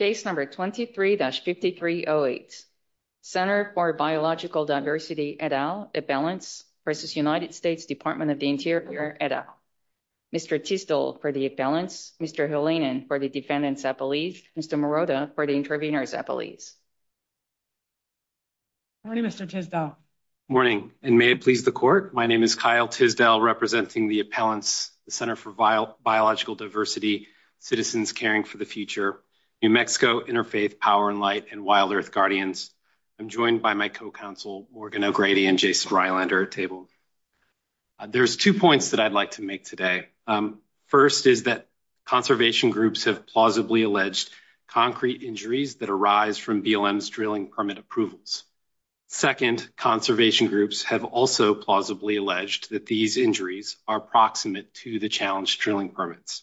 23-5308 Center for Biological Diversity et al. Appellants v. United States Department of the Interior et al. Mr. Tisdall for the appellants, Mr. Hellinan for the defendants appellees, Mr. Morota for the intervenors appellees. Morning Mr. Tisdall. Morning and may it please the court, my name is Kyle Tisdall representing the appellants, the Center for Biological Diversity, Citizens Caring for the Future, New Mexico, Interfaith, Power and Light, and Wild Earth Guardians. I'm joined by my co-counsel Morgan O'Grady and Jason Rylander at table. There's two points that I'd like to make today. First is that conservation groups have plausibly alleged concrete injuries that arise from BLM's drilling permit approvals. Second, conservation groups have also plausibly alleged that these injuries are proximate to the challenged drilling permits.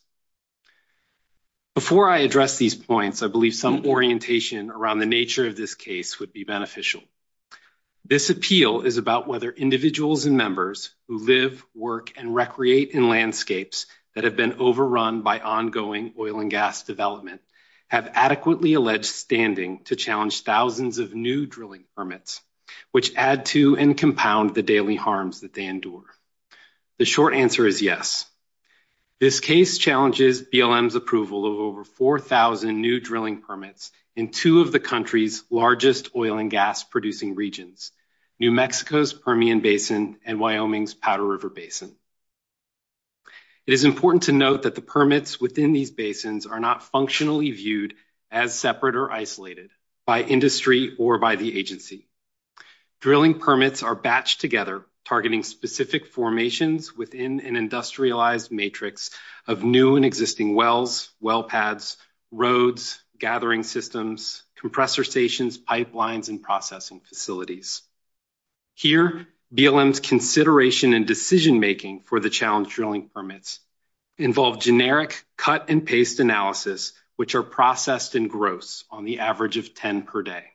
Before I address these points, I believe some orientation around the nature of this case would be beneficial. This appeal is about whether individuals and members who live, work, and recreate in landscapes that have been overrun by ongoing oil and gas development have adequately alleged standing to challenge thousands of new drilling permits, which add to and compound the daily harms that they endure. The short answer is yes. This case challenges BLM's approval of over 4,000 new drilling permits in two of the country's largest oil and gas producing regions, New Mexico's Permian Basin and Wyoming's Powder River Basin. It is important to note that the permits within these basins are not functionally viewed as separate or isolated by industry or by the agency. Drilling permits are batched together, targeting specific formations within an industrialized matrix of new and existing wells, well pads, roads, gathering systems, compressor stations, pipelines, and processing facilities. Here, BLM's consideration and decision-making for the challenge drilling permits involve generic cut-and-paste analysis, which are processed in gross on the average of 10 per day.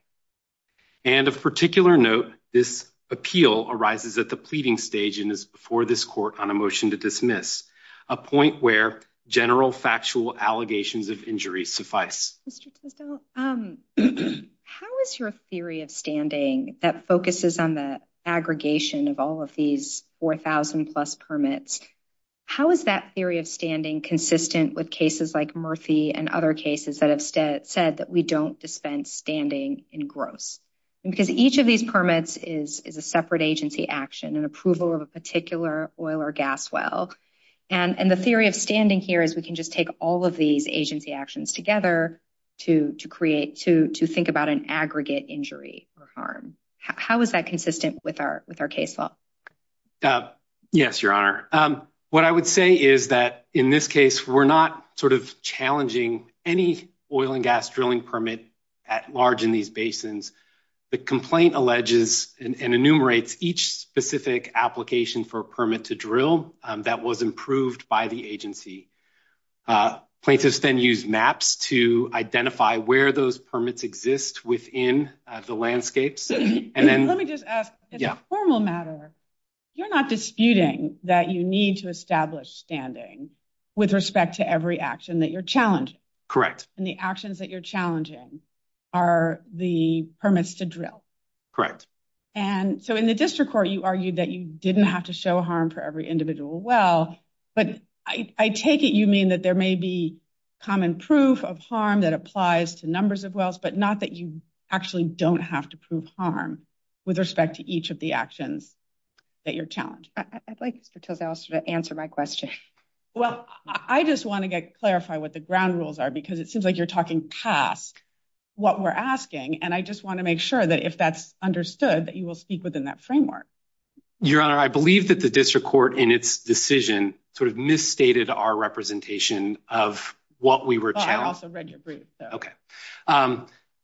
And of particular note, this appeal arises at the pleading stage and is before this court on a motion to dismiss, a point where general factual allegations of injury suffice. So, how is your theory of standing that focuses on the aggregation of all of these 4,000 plus permits? How is that theory of standing consistent with cases like Murphy and other cases that have said that we don't dispense standing in gross? Because each of these permits is a separate agency action, an approval of a particular oil or gas well. And the theory of standing here is we can just take all of these agency actions together to create, to think about an aggregate injury or harm. How is that consistent with our case law? Yes, Your Honor. What I would say is that in this case, we're not sort of challenging any oil and gas drilling permit at large in these basins. The complaint alleges and enumerates each specific application for a permit to drill that was approved by the agency. Places then use maps to identify where those permits exist within the landscapes. Let me just ask, as a formal matter, you're not disputing that you need to establish standing with respect to every action that you're challenging. Correct. And the actions that you're challenging are the permits to drill. Correct. And so, in the district court, you argued that you didn't have to show harm for every individual well. But I take it you mean that there may be common proof of harm that applies to numbers of wells, but not that you actually don't have to prove harm with respect to each of the actions that you're challenging. I'd like to tell Alice to answer my question. Well, I just wanted to clarify what the ground rules are because it seems like you're talking past what we're asking. And I just want to make sure that if that's understood, that you will speak within that framework. Your Honor, I believe that the district court in its decision sort of misstated our representation of what we were challenging. I also read your brief. Okay.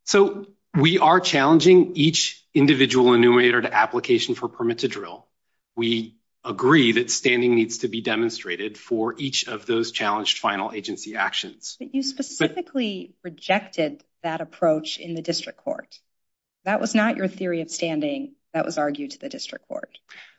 So, we are challenging each individual enumerator to application for permit to drill. We agree that standing needs to be demonstrated for each of those challenged final agency actions. But you specifically rejected that approach in the district court. That was not your theory of standing. That was argued to the district court.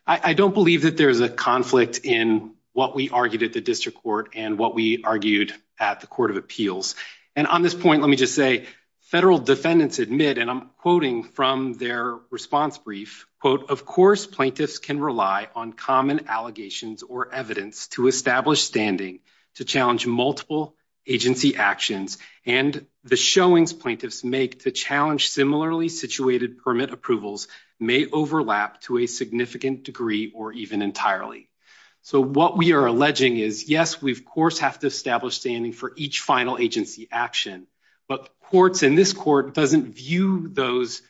I don't believe that there's a conflict in what we argued at the district court and what we argued at the court of appeals. And on this point, let me just say, federal defendants admit, and I'm quoting from their response brief, quote, of course, plaintiffs can rely on common allegations or evidence to establish standing to challenge multiple agency actions. And the showings plaintiffs make to challenge similarly situated permit approvals may overlap to a significant degree or even entirely. So, what we are alleging is, yes, we, of course, have to establish standing for each final agency action. But courts in this court doesn't view those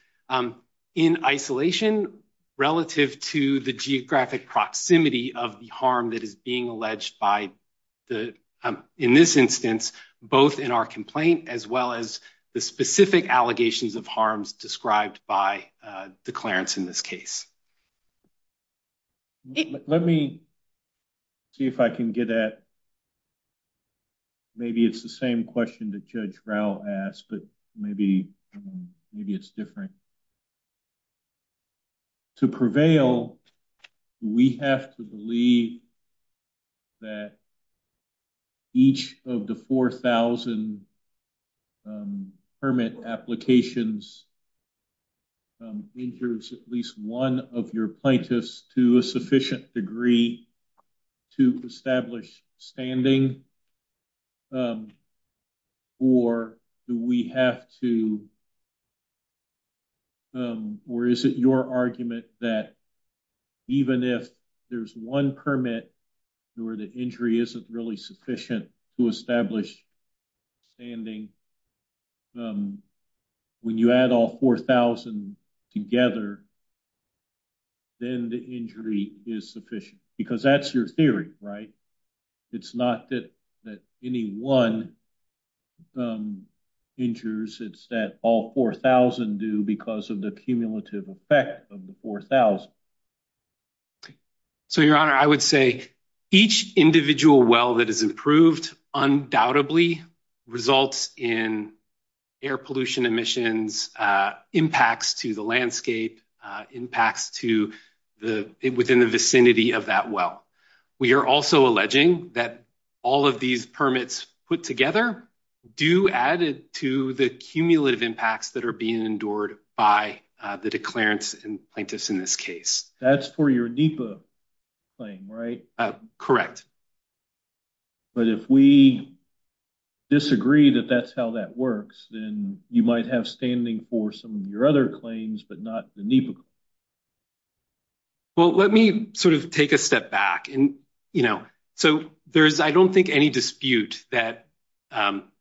in isolation relative to the geographic proximity of the harm that is being alleged by the, in this instance, both in our complaint as well as the specific allegations of harms described by the clearance in this case. Let me see if I can get at, maybe it's the same question that Judge Rowe asked, but maybe it's different. To prevail, we have to believe that each of the 4,000 permit applications injures at least one of your plaintiffs to a sufficient degree to establish standing, or do we have to, or is it your argument that even if there's one permit where the injury isn't really sufficient to establish standing, when you add all 4,000 together, then the injury is sufficient? Because that's your theory, right? It's not that any one injures, it's that all 4,000 do because of the cumulative effect of the 4,000. So, Your Honor, I would say each individual well that is approved undoubtedly results in air pollution emissions, impacts to the landscape, impacts within the vicinity of that well. We are also alleging that all of these permits put together do add to the cumulative impacts that are being endured by the declarants and plaintiffs in this case. That's for your NEPA claim, right? Correct. But if we disagree that that's how that works, then you might have standing for some of your other claims, but not the NEPA. Well, let me sort of take a step back. So, I don't think any dispute that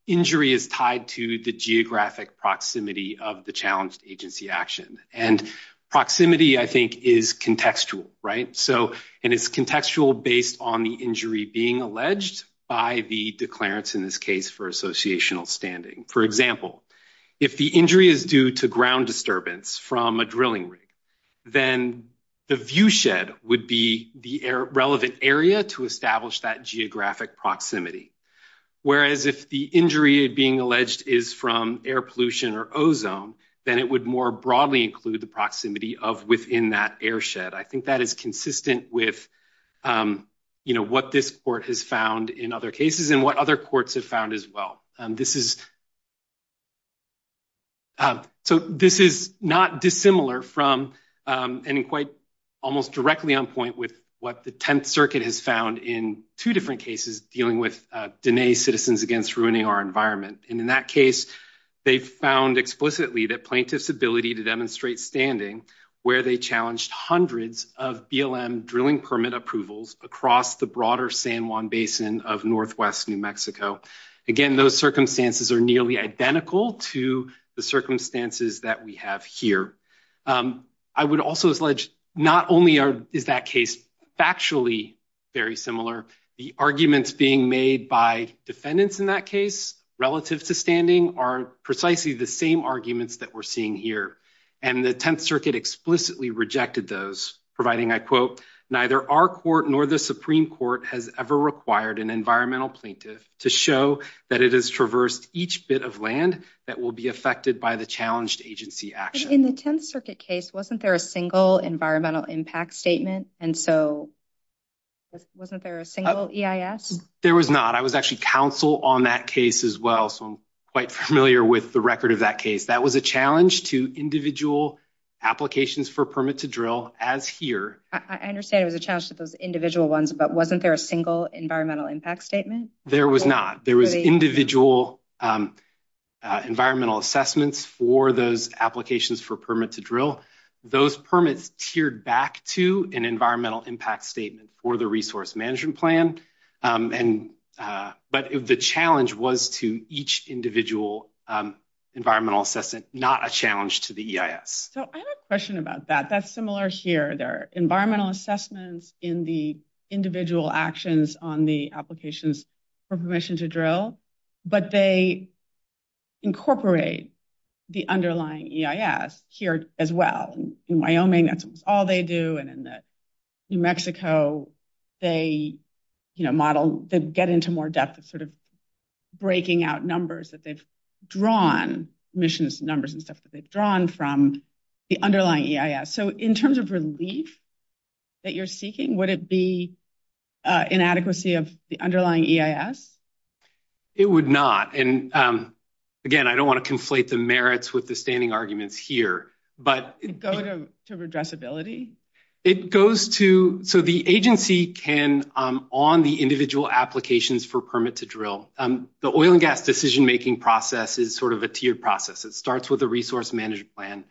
injury is tied to the geographic proximity of the challenged agency action. And proximity, I think, is contextual, right? So, and it's contextual based on the injury being alleged by the declarants in this case for associational standing. For example, if the injury is due to ground disturbance from a drilling rig, then the viewshed would be the relevant area to establish that geographic proximity. Whereas if the injury being alleged is from air pollution or ozone, then it would more broadly include the proximity of within that airshed. I think that is consistent with what this court has found in other cases and what other courts have found as well. So, this is not dissimilar from and quite almost directly on point with what the Tenth Circuit has found in two different cases dealing with Dine Citizens Against Ruining Our Environment. And in that case, they found explicitly that plaintiff's ability to demonstrate standing where they challenged hundreds of BLM drilling permit approvals across the broader San Juan Basin of Northwest New Mexico. Again, those circumstances are nearly identical to the circumstances that we have here. I would also allege not only is that case factually very similar, the arguments being made by defendants in that case relative to standing are precisely the same arguments that we're seeing here. And the Tenth Circuit explicitly rejected those providing, I quote, neither our court nor the Supreme Court has ever required an environmental plaintiff to show that it has traversed each bit of land that will be affected by the challenged agency action. In the Tenth Circuit case, wasn't there a single environmental impact statement? And so, wasn't there a single EIS? There was not. I was actually counsel on that case as well, so I'm quite familiar with the record of that case. That was a challenge to individual applications for permit to drill as here. I understand it was a challenge to those individual ones, but wasn't there a single environmental impact statement? There was not. There was individual environmental assessments for those applications for permit to drill. Those permits teared back to an environmental impact statement for the resource management plan, but the challenge was to each individual environmental assessment, not a challenge to the EIS. So, I have a question about that. That's similar here. There are environmental assessments in the individual actions on the applications for permission to drill, but they incorporate the underlying EIS here as well. In Wyoming, that's all they do, and in New Mexico, they get into more depth of breaking out numbers that they've drawn, emissions numbers and stuff that they've drawn from the underlying EIS. So, in terms of relief that you're seeking, would it be inadequacy of the underlying EIS? It would not, and again, I don't want to conflate the merits with the standing arguments here, but... It goes to addressability? It goes to... So, the agency can, on the individual applications for permit to drill, the oil and gas decision process is sort of a tiered process. It starts with a resource management plan.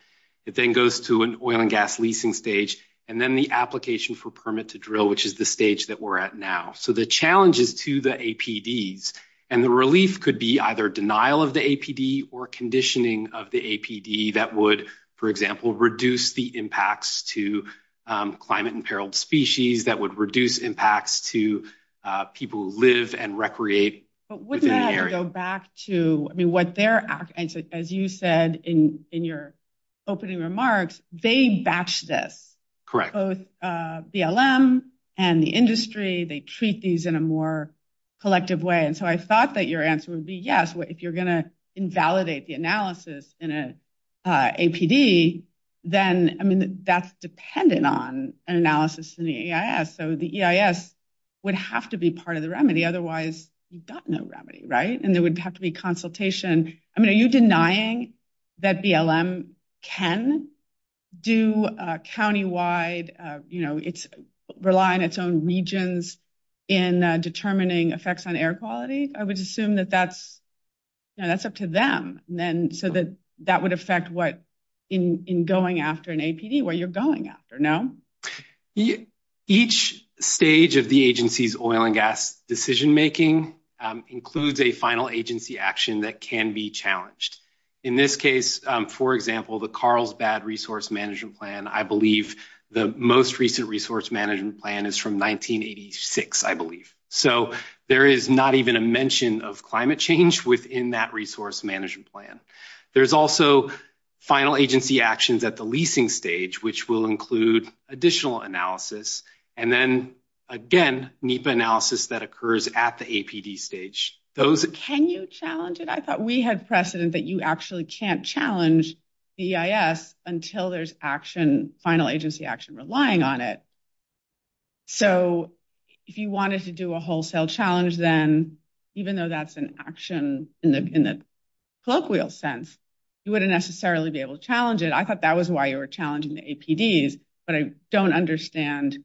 It then goes to an oil and gas leasing stage, and then the application for permit to drill, which is the stage that we're at now. So, the challenge is to the APDs, and the relief could be either denial of the APD or conditioning of the APD that would, for example, reduce the impacts to climate imperiled species, that would reduce impacts to people who live and recreate. But wouldn't that go back to, I mean, what their... As you said in your opening remarks, they batch this. Correct. Both BLM and the industry, they treat these in a more collective way. And so, I thought that your answer would be yes. If you're going to invalidate the analysis in an APD, then, I mean, that's dependent on an analysis in the EIS. So, the EIS would have to be part of the remedy. Otherwise, you've got no remedy, right? And there would have to be consultation. I mean, are you denying that BLM can do countywide, rely on its own regions in determining effects on air quality? I would assume that that's... No, that's up to them. So, that would affect what in going after an APD where you're going after, no? Each stage of the agency's oil and gas decision-making includes a final agency action that can be challenged. In this case, for example, the Carlsbad Resource Management Plan, I believe the most recent resource management plan is from 1986, I believe. So, there is not even a mention of climate change within that resource management plan. There's also final agency actions at the leasing stage, which will include additional analysis. And then, again, NEPA analysis that occurs at the APD stage. Can you challenge it? I thought we had the precedent that you actually can't challenge EIS until there's action, final agency action, relying on it. So, if you wanted to do a wholesale challenge, then, even though that's an action in the colloquial sense, you wouldn't necessarily be able to challenge it. I thought that was why you were challenging the APDs, but I don't understand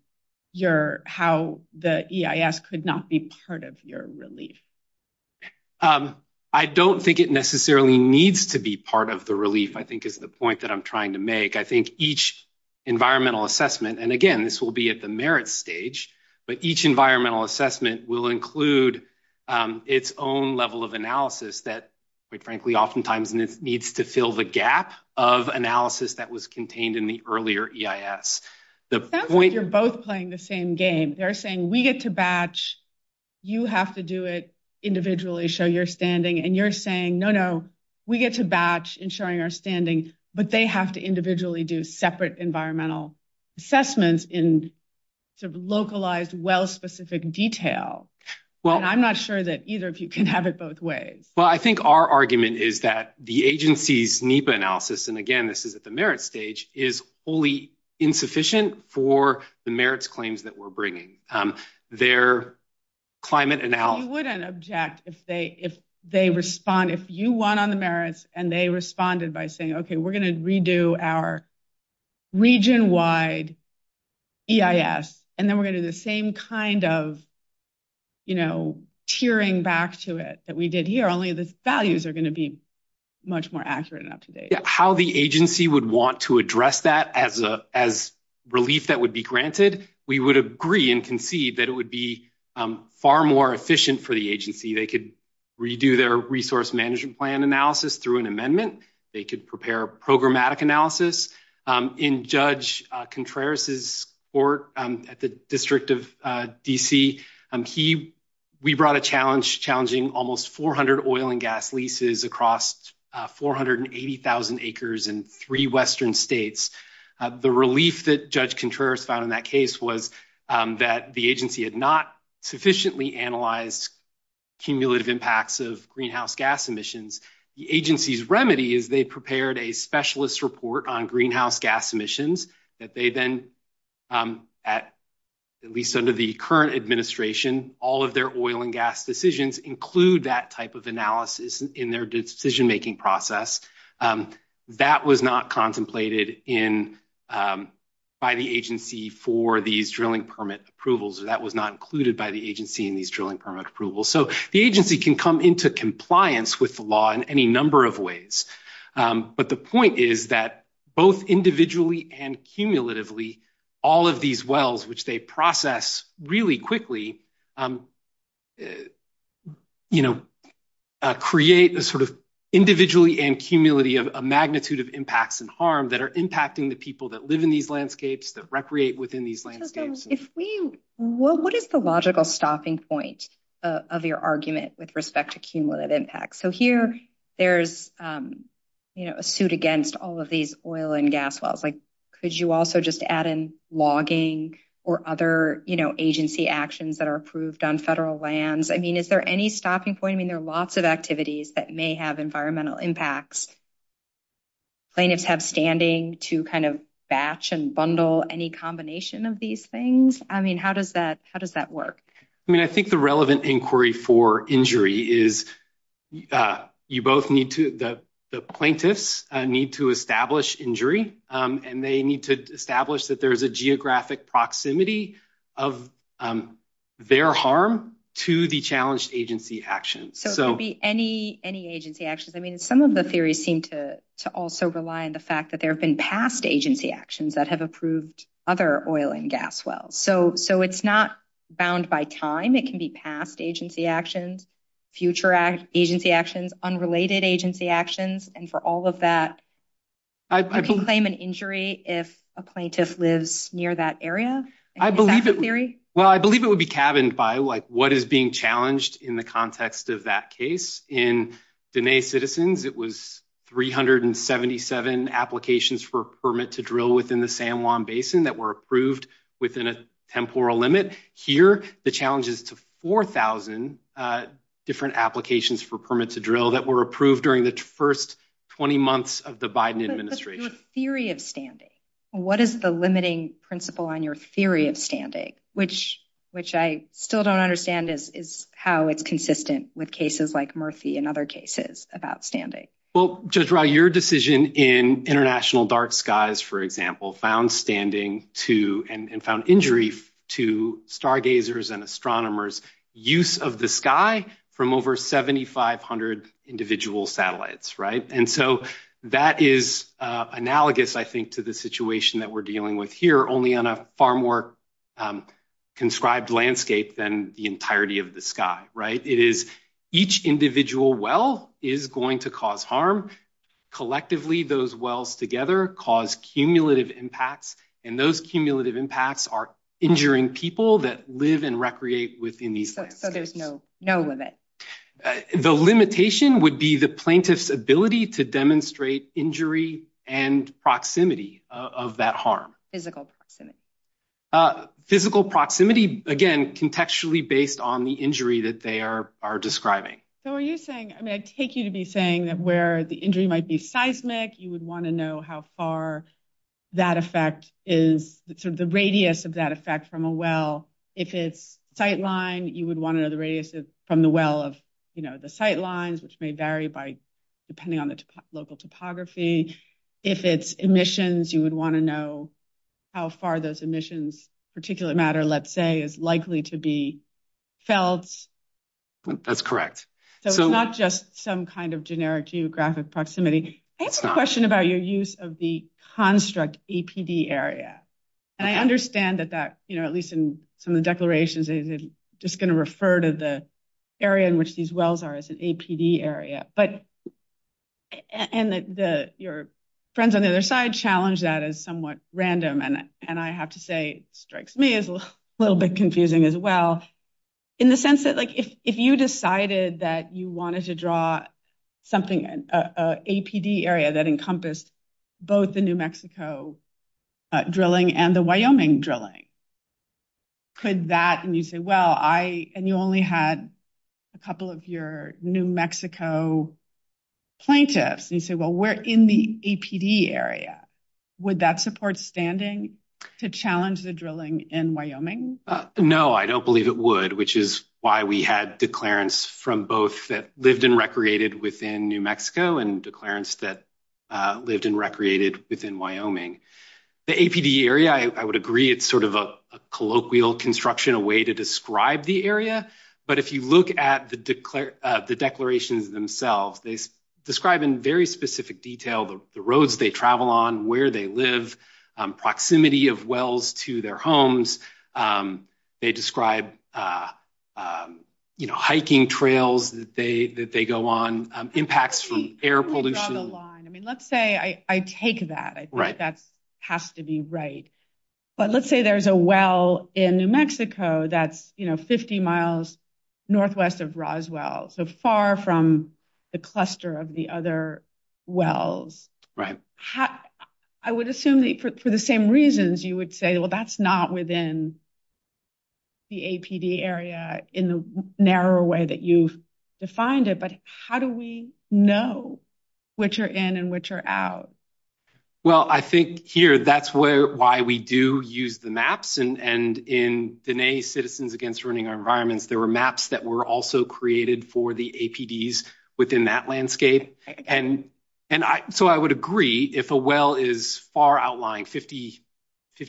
how the EIS could not be part of your relief. I don't think it necessarily needs to be part of the relief, I think is the point that I'm trying to make. I think each environmental assessment, and again, this will be at the merit stage, but each environmental assessment will include its own level of analysis that, quite frankly, oftentimes needs to fill the gap of analysis that was contained in the earlier EIS. That's why you're both playing the same game. They're saying, we get to batch, you have to do it individually, show your standing. And you're saying, no, no, we get to batch in showing our standing, but they have to individually do separate environmental assessments in localized, well-specific detail. I'm not sure that either of you can have it both ways. Well, I think our argument is that the agency's NEPA analysis, and again, this is at the merit stage, is wholly insufficient for the merits claims that we're bringing. Their climate analysis- We wouldn't object if they respond, if you won on the merits, and they responded by saying, okay, we're going to redo our region-wide EIS, and then we're going to do the same kind of tiering back to it that we did here, only the values are going to be much more accurate and up-to-date. How the agency would want to address that as relief that would be granted, we would agree and concede that it would be far more efficient for the agency. They could redo their resource management plan analysis through an amendment. They could prepare programmatic analysis. In Judge Contreras' work at the District of D.C., we brought a challenge challenging almost 400 oil and gas leases across 480,000 acres in three Western states. The relief that Judge Contreras found in that case was that the agency had not sufficiently analyzed cumulative impacts of greenhouse gas emissions. The agency's remedy is they prepared a specialist report on greenhouse gas emissions that they then, at least under the current administration, all of their oil and gas decisions include that type of analysis in their decision-making process. That was not contemplated by the agency for these drilling permit approvals. That was not included by the agency in these drilling permit approvals. The agency can come into compliance with the law in any number of ways, but the point is that both individually and cumulatively, all of these wells, which they process really quickly, create individually and cumulatively a magnitude of impacts and harm that are impacting the people that live in these landscapes, that create within these landscapes. What is the logical stopping point of your argument with respect to cumulative impacts? Here, there's a suit against all of these oil and gas wells. Could you also just add in logging or other agency actions that are approved on federal lands? Is there any stopping point? There are lots of activities that may have environmental impacts. Do plaintiffs have standing to kind of batch and bundle any combination of these things? How does that work? I think the relevant inquiry for injury is the plaintiffs need to establish injury, and they need to establish that there's a geographic proximity of their harm to the challenged agency actions. It could be any agency actions. Some of the theories seem to also rely on the fact that there have been past agency actions that have approved other oil and gas wells. It's not bound by time. It can be past agency actions, future agency actions, unrelated agency actions, and for all of that, you can claim an injury if a plaintiff lives near that area? I believe it would be cabined by what is being challenged in the context of that case. In Diné Citizens, it was 377 applications for permit to drill within the San Juan Basin that were approved within a temporal limit. Here, the challenge is to 4,000 different applications for permit to drill that were approved during the first 20 months of the Biden administration. What's your theory of standing? What is the limiting principle on your theory of standing, which I still don't understand is how it's consistent with cases like Murphy and other cases about standing? Judge Ra, your decision in International Dark Skies, for example, found standing and found injury to stargazers and astronomers' use of the sky from over 7,500 individual satellites. That is analogous, I think, to the situation that we're dealing with here, only on a far more conscribed landscape than the entirety of the sky, right? It is each individual well is going to cause harm. Collectively, those wells together cause cumulative impacts, and those cumulative impacts are injuring people that live and recreate within these sites. So there's no limit? The limitation would be the plaintiff's ability to demonstrate injury and proximity of that harm. Physical proximity, again, contextually based on the injury that they are describing. So are you saying, I mean, I'd take you to be saying that where the injury might be seismic, you would want to know how far that effect is, the radius of that effect from a well. If it's sightline, you would want to know from the well of the sightlines, which may vary depending on the local topography. If it's emissions, you would want to know how far those emissions, particular matter, let's say, is likely to be felt. That's correct. So it's not just some kind of generic geographic proximity. I have a question about your use of the construct APD area. And I understand that, at least in some of the declarations, they're just going to refer to the area in which these wells are as an APD area. And your friends on the other side challenge that as somewhat random. And I have to say, it strikes me as a little bit confusing as well, in the sense that if you decided that you wanted to draw something, an APD area that encompassed both the New Mexico drilling and the Wyoming drilling, and you only had a couple of your New Mexico plaintiffs, and you say, well, we're in the APD area, would that support standing to challenge the drilling in Wyoming? No, I don't believe it would, which is why we had declarants from both that lived and recreated within New Mexico and declarants that lived and recreated within Wyoming. The APD area, I would agree, it's sort of a colloquial construction, a way to describe the area. But if you look at the declarations themselves, they describe in very specific detail the roads they travel on, where they live, proximity of wells to their homes. They describe hiking trails that they go on, impacts from air pollution. I mean, let's say I take that, I think that has to be right. But let's say there's a well in New Mexico that's 50 miles northwest of Roswell, so far from the cluster of the other wells. I would assume that for the same reasons, you would say, well, that's not within the APD area in the narrow way that you've defined it. But how do we know which are in and which are out? Well, I think here, that's why we do use the maps. And in Denae Citizens Against Ruining Our Environments, there were maps that were also created for the APDs within that landscape. And so I would agree, if a well is far outlying, 50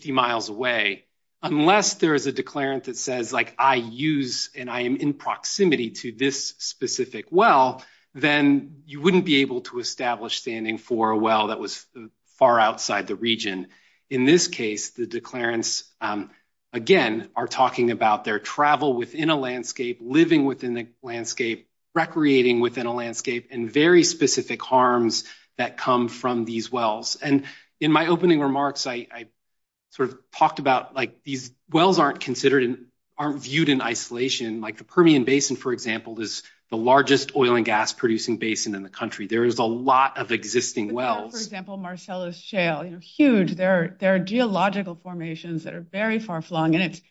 miles away, unless there is a declarant that says, like, I use and I am in proximity to this specific well, then you wouldn't be able to establish standing for a well that was far outside the region. In this case, the declarants, again, are talking about their travel within a landscape, living within the landscape, recreating within a landscape, and very specific harms that come from these wells. And in my opening remarks, I sort of talked about, like, these wells aren't considered and aren't viewed in isolation. Like the Permian Basin, for example, is the largest oil and gas producing basin in the country. There is a lot of existing wells. For example, Marcello's Shale, huge. There are geological formations that are very far flung, and it's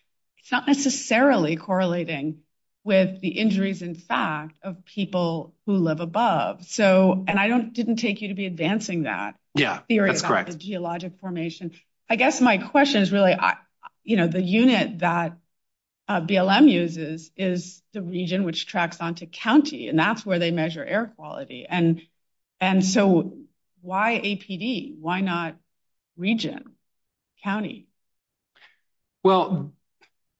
not necessarily correlating with the injuries, in fact, of people who live above. And I didn't take you to be advancing that theory about the geologic formation. I guess my question is really, the unit that BLM uses is the region which tracks onto county, and that's where they measure air quality. And so why APD? Why not region, county? Well,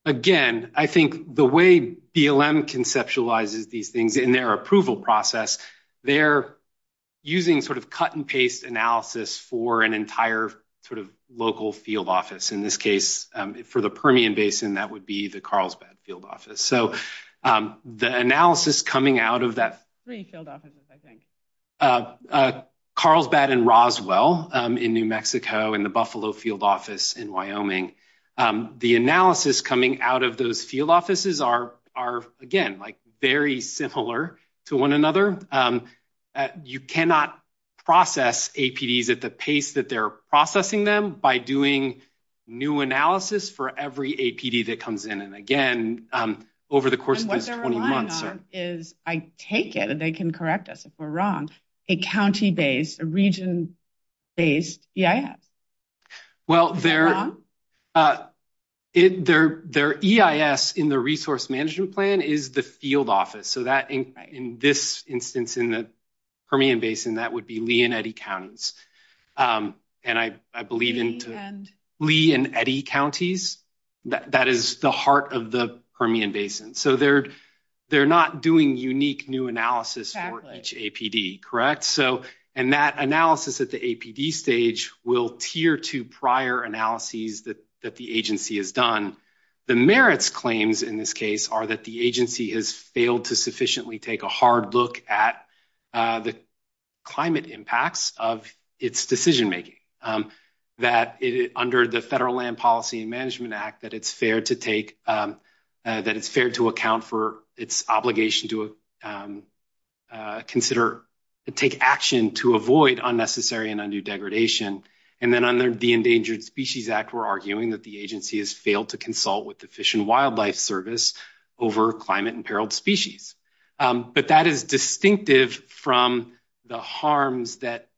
again, I think the way BLM conceptualizes these things in their approval process, they're using sort of cut and paste analysis for an entire sort of local field office. In this case, for the Permian Basin, that would be the Carlsbad Field Office. So the analysis coming out of that Carlsbad and Roswell in New Mexico and the Buffalo Field Office in Wyoming, the analysis coming out of those field offices are, again, like very similar to one another. You cannot process APDs at the pace that they're processing them by doing new analysis for every APD that comes in. And again, over the course of this 20 months... And what they're relying on is, I take it, and they can correct us if we're wrong, a county-based, a region-based EIS. Well, their EIS in the resource management plan is the field office. So in this instance, in the Permian Basin, that would be Lee and Eddy counties. And I believe in Lee and Eddy counties. That is the heart of the Permian Basin. So they're not doing unique new analysis for each APD, correct? And that analysis at the APD stage will peer to prior analyses that the agency has done. The merits claims in this case are that the agency has failed to sufficiently take a hard look at the climate impacts of its decision-making, that under the Federal Land Policy and Management Act, it's fair to account for its obligation to consider and take action to avoid unnecessary and undue degradation. And then under the Endangered Species Act, we're arguing that the agency has failed to consult with the Fish and Wildlife Service over climate imperiled species. But that is distinctive from the harms that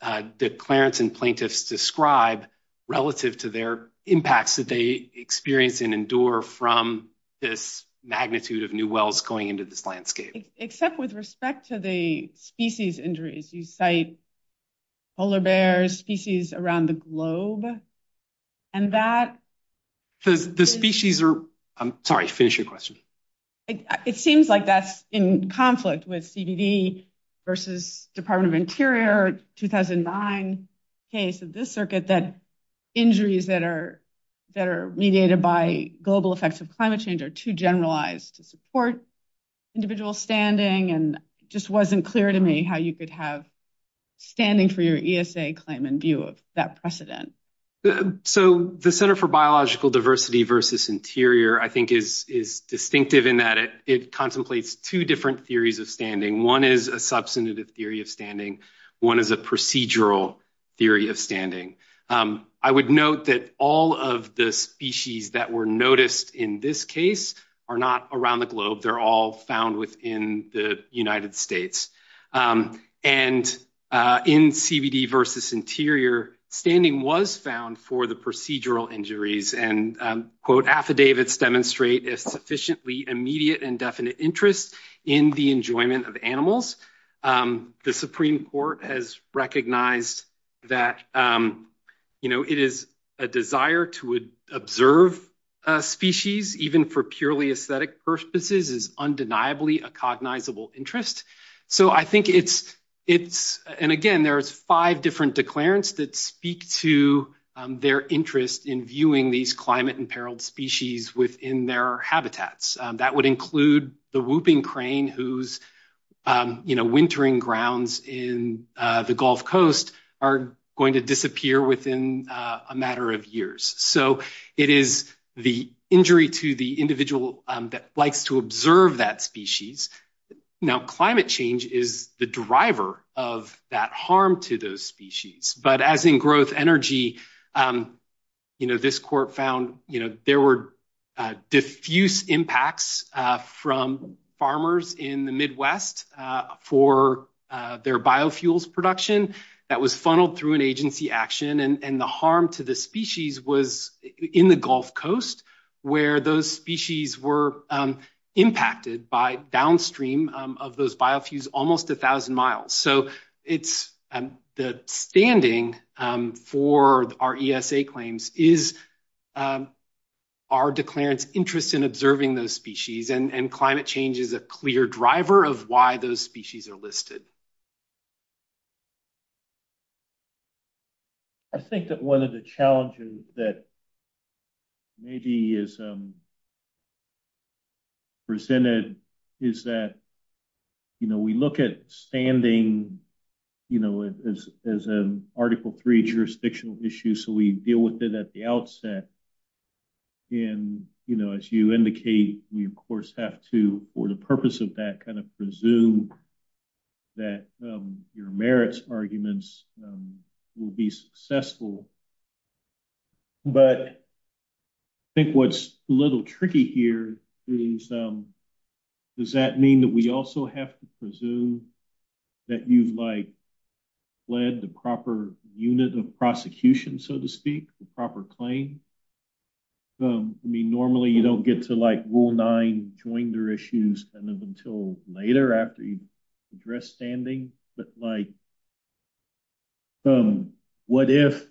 Clarence and plaintiffs describe relative to their impacts that they experience and endure from this magnitude of new wells going into this landscape. Except with respect to the species injuries, you cite polar bears, species around the globe, and that... So the species are... I'm sorry, finish your question. It seems like that's in conflict with CBD versus Department of Interior, 2009 case of this circuit, that injuries that are mediated by global effects of climate change are too generalized to support individual standing. And it just wasn't clear to me how you could have standing for your ESA claim and view of that precedent. So the Center for Biological Diversity Interior, I think is distinctive in that it contemplates two different theories of standing. One is a substantive theory of standing. One is a procedural theory of standing. I would note that all of the species that were noticed in this case are not around the globe. They're all found within the United States. And in CBD versus Interior, standing was found for the procedural injuries. And quote, affidavits demonstrate a sufficiently immediate and definite interest in the enjoyment of animals. The Supreme Court has recognized that it is a desire to observe species, even for purely aesthetic purposes, is undeniably a cognizable interest. So I think it's... And again, there's five different declarants that speak to their interest in viewing these climate-imperiled species within their habitats. That would include the whooping crane whose wintering grounds in the Gulf Coast are going to disappear within a matter of years. So it is the injury to the individual that likes to observe that species. Now, climate change is the driver of that harm to those species. But as in growth energy, this court found there were diffuse impacts from farmers in the Midwest for their biofuels production that was funneled through an agency action. And the harm to the species was in the Gulf Coast, where those species were impacted by downstream of those biofuels almost a thousand miles. So the standing for our ESA claims is our declarant's interest in observing those species. And climate change is a clear driver of why those species are listed. I think that one of the challenges that maybe is presented is that we look at standing as an Article III jurisdictional issue. So we deal with it at the outset. And as you indicate, we of course have to, for the purpose of that, presume that your merits arguments will be successful. But I think what's a little tricky here is, does that mean that we also have to presume that you've led the proper unit of prosecution, so to speak, the proper claim? I mean, normally you don't get to rule nine and join their issues until later after you address standing. But what if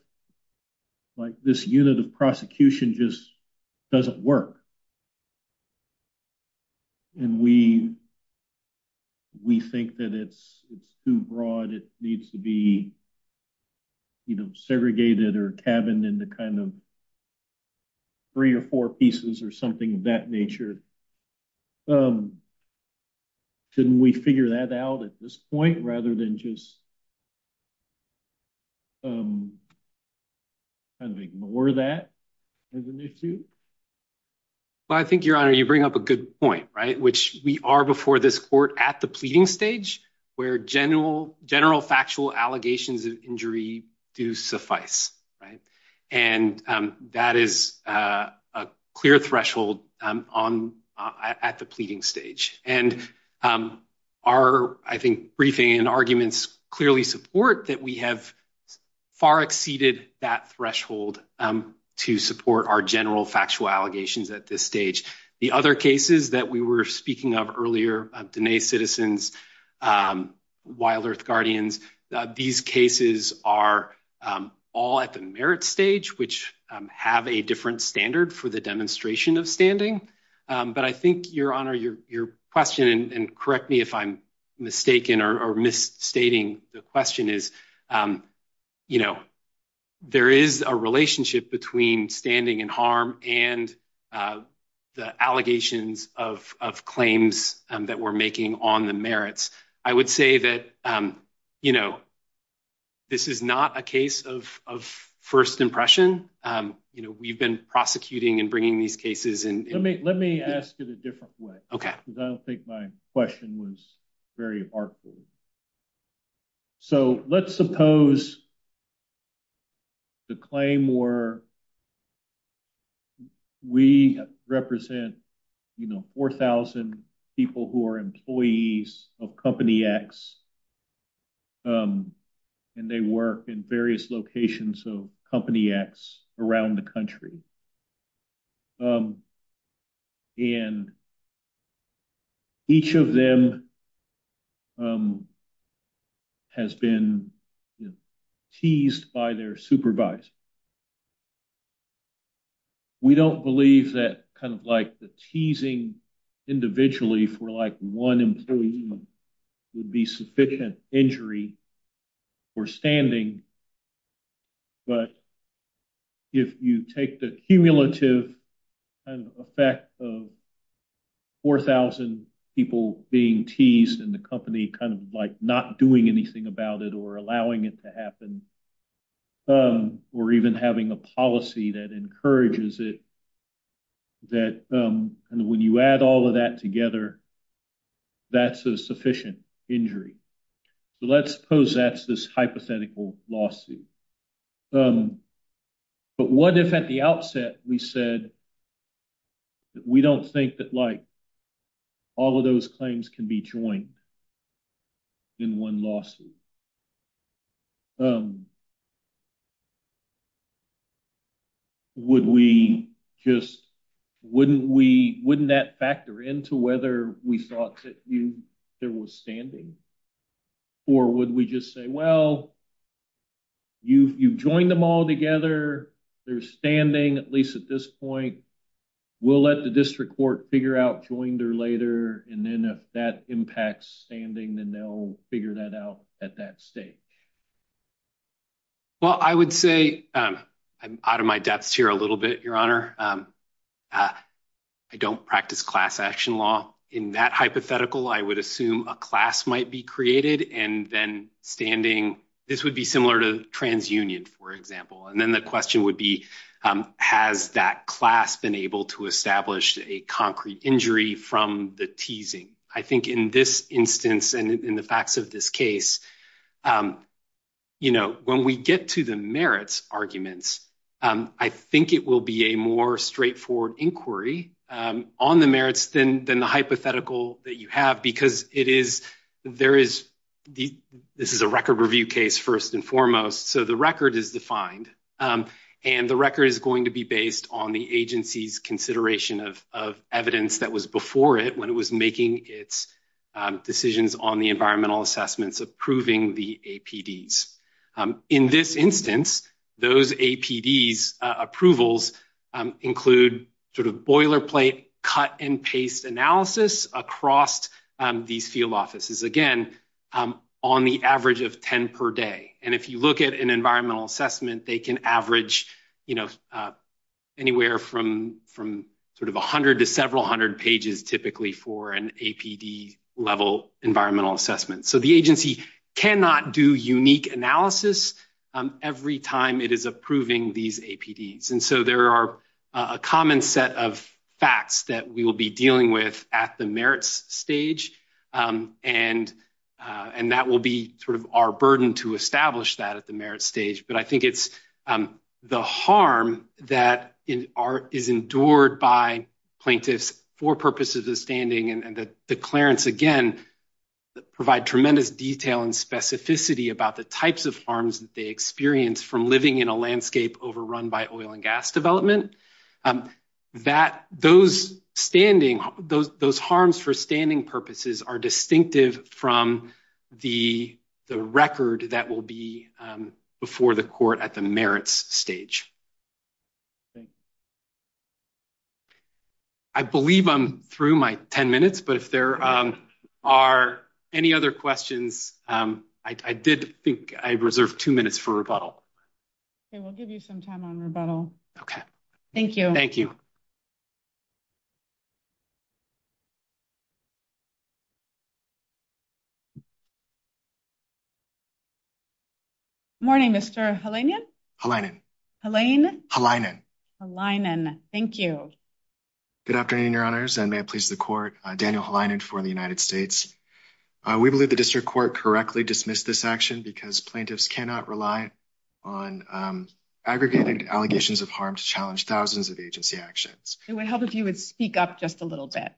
this unit of prosecution just doesn't work? And we think that it's too broad. It needs to be segregated or tabbed into three or four pieces or something of that nature. So shouldn't we figure that out at this point rather than just kind of ignore that as an issue? Well, I think, Your Honor, you bring up a good point, which we are before this court at the pleading stage where general factual allegations of injury do suffice. And that is a clear threshold at the pleading stage. And our, I think, briefing and arguments clearly support that we have far exceeded that threshold to support our general factual allegations at this stage. The other cases that we were speaking of earlier, Dine Citizens, Wild Earth Guardians, these cases are all at the merit stage, which have a different standard for the demonstration of standing. But I think, Your Honor, your question, and correct me if I'm mistaken or misstating the question, is there is a relationship between standing in harm and the allegations of claims that we're making on the merits. I would say that this is not a case of first impression. We've been prosecuting and bringing these cases in. Let me ask it a different way. Okay. Because I don't think my question was very heartful. So, let's suppose the claim were, we represent, you know, 4,000 people who are employees of Company X and they work in various locations of Company X around the country. And each of them has been teased by their supervisor. We don't believe that kind of like the teasing individually for like one employee would be injury for standing. But if you take the cumulative effect of 4,000 people being teased and the company kind of like not doing anything about it or allowing it to happen, or even having a policy that encourages it, that when you add all of that together, that's a sufficient injury. So, let's suppose that's this hypothetical lawsuit. But what if at the outset we said that we don't think that like all of those claims can be joined in one lawsuit? Wouldn't that factor into whether we thought that there was standing? Or would we just say, well, you've joined them all together. They're standing, at least at this point. We'll let the district court figure out joined or later. And then if that impacts standing, then they'll figure that out at that stage. Well, I would say, I'm out of my depth here a little bit, Your Honor. I don't practice class action law. In that hypothetical, I would assume a class might be created and then standing. This would be similar to transunion, for example. And then the question would be, has that class been able to establish a concrete injury from the teasing? I think in this instance, and in the facts of this case, when we get to the merits arguments, I think it will be a more straightforward inquiry on the merits than the hypothetical that you have. Because it is, this is a record review case, first and foremost. So, the record is defined. And the record is going to be based on the agency's consideration of evidence that was before it when it was making its decisions on the environmental assessments approving the APDs. In this instance, those APDs approvals include sort of boilerplate cut and paste analysis across these field offices. Again, on the average of 10 per day. And if you look at an environmental assessment, they can average you know, anywhere from sort of 100 to several hundred pages typically for an APD level environmental assessment. So, the agency cannot do unique analysis every time it is approving these APDs. And so, there are a common set of facts that we will be dealing with at the merits stage. And that will be sort of our burden to establish that at the merits stage. But I think it's the harm that is endured by plaintiffs for purposes of standing. And the clearance, again, provide tremendous detail and specificity about the types of harms that they experience from living in a landscape overrun by oil and gas development. That, those standing, those harms for standing purposes are distinctive from the record that will be before the court at the merits stage. I believe I'm through my 10 minutes. But if there are any other questions, I did think I reserved two minutes for rebuttal. Okay. We'll give you some time on rebuttal. Okay. Thank you. Thank you. Good morning, Mr. Halinan. Halinan. Halinan. Halinan. Halinan. Thank you. Good afternoon, Your Honors. And may it please the court, Daniel Halinan for the United States. We believe the district court correctly dismissed this action because plaintiffs cannot rely on aggregated allegations of harm to challenge thousands of agency actions. It would help if you would speak up just a little bit.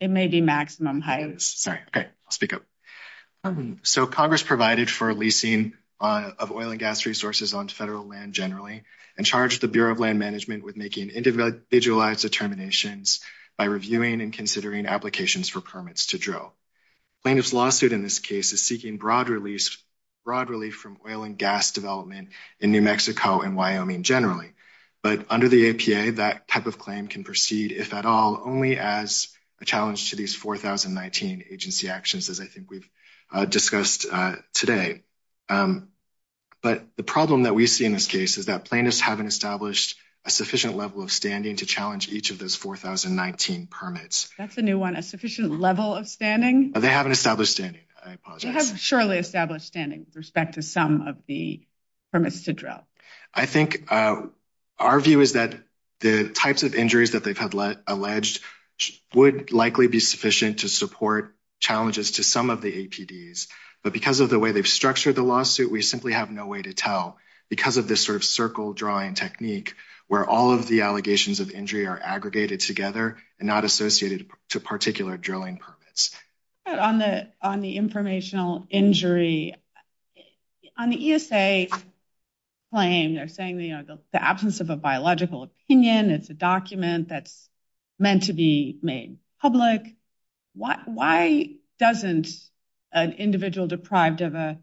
It may be maximum height. Sorry. Okay. I'll speak up. So, Congress provided for leasing of oil and gas resources onto federal land generally and charged the Bureau of Land Management with making individualized determinations by reviewing and considering applications for permits to drill. Plaintiff's lawsuit in this case is seeking broad relief from oil and gas development in New Mexico and Wyoming generally. But under the APA, that type of claim can proceed, if at all, only as a challenge to these 4,019 agency actions as I think we've discussed today. But the problem that we see in this case is that plaintiffs haven't established a sufficient level of standing to challenge each of those 4,019 permits. That's a new one. A sufficient level of standing? They haven't established standing. I apologize. They haven't surely established standing with respect to some of the permits to drill. I think our view is that the types of injuries that they've had alleged would likely be sufficient to support challenges to some of the APDs. But because of the way they've structured the lawsuit, we simply have no way to tell. Because of this sort of circle drawing technique where all of the allegations of injury are aggregated together and not associated to particular drilling permits. On the informational injury, on the ESA claim, they're saying the absence of a biological opinion, it's a document that's meant to be made public. Why doesn't an individual deprived of a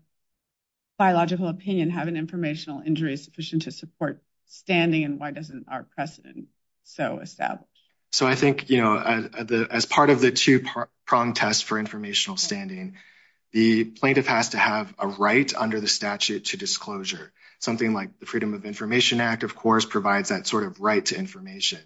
biological opinion have an informational injury sufficient to support standing and why doesn't our precedent so establish? So I think as part of the two-pronged test for informational standing, the plaintiff has to have a right under the statute to disclosure. Something like the Freedom of Information Act, of course, provides that sort of right to information.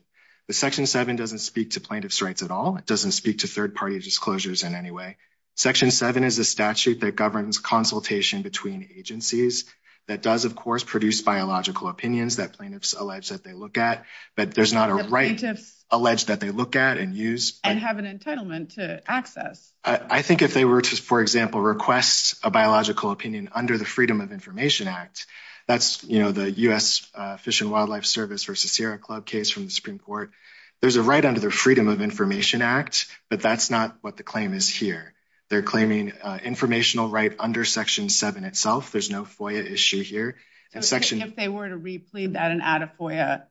But Section 7 doesn't speak to plaintiff's rights at all. It doesn't speak to third-party disclosures in any way. Section 7 is a statute that governs consultation between agencies that does, of course, produce biological opinions that plaintiffs allege that they look at. But there's not a right alleged that they look at and use. And have an entitlement to access. I think if they were to, for example, request a biological opinion under the Freedom of Information Act, that's, you know, the U.S. Fish and Wildlife Service versus Sierra Club case from the Supreme Court. There's a right under the Freedom of Information Act, but that's not what the claim is here. They're claiming informational right under Section 7 itself. There's no FOIA issue here. If they were to re-plead that and add a FOIA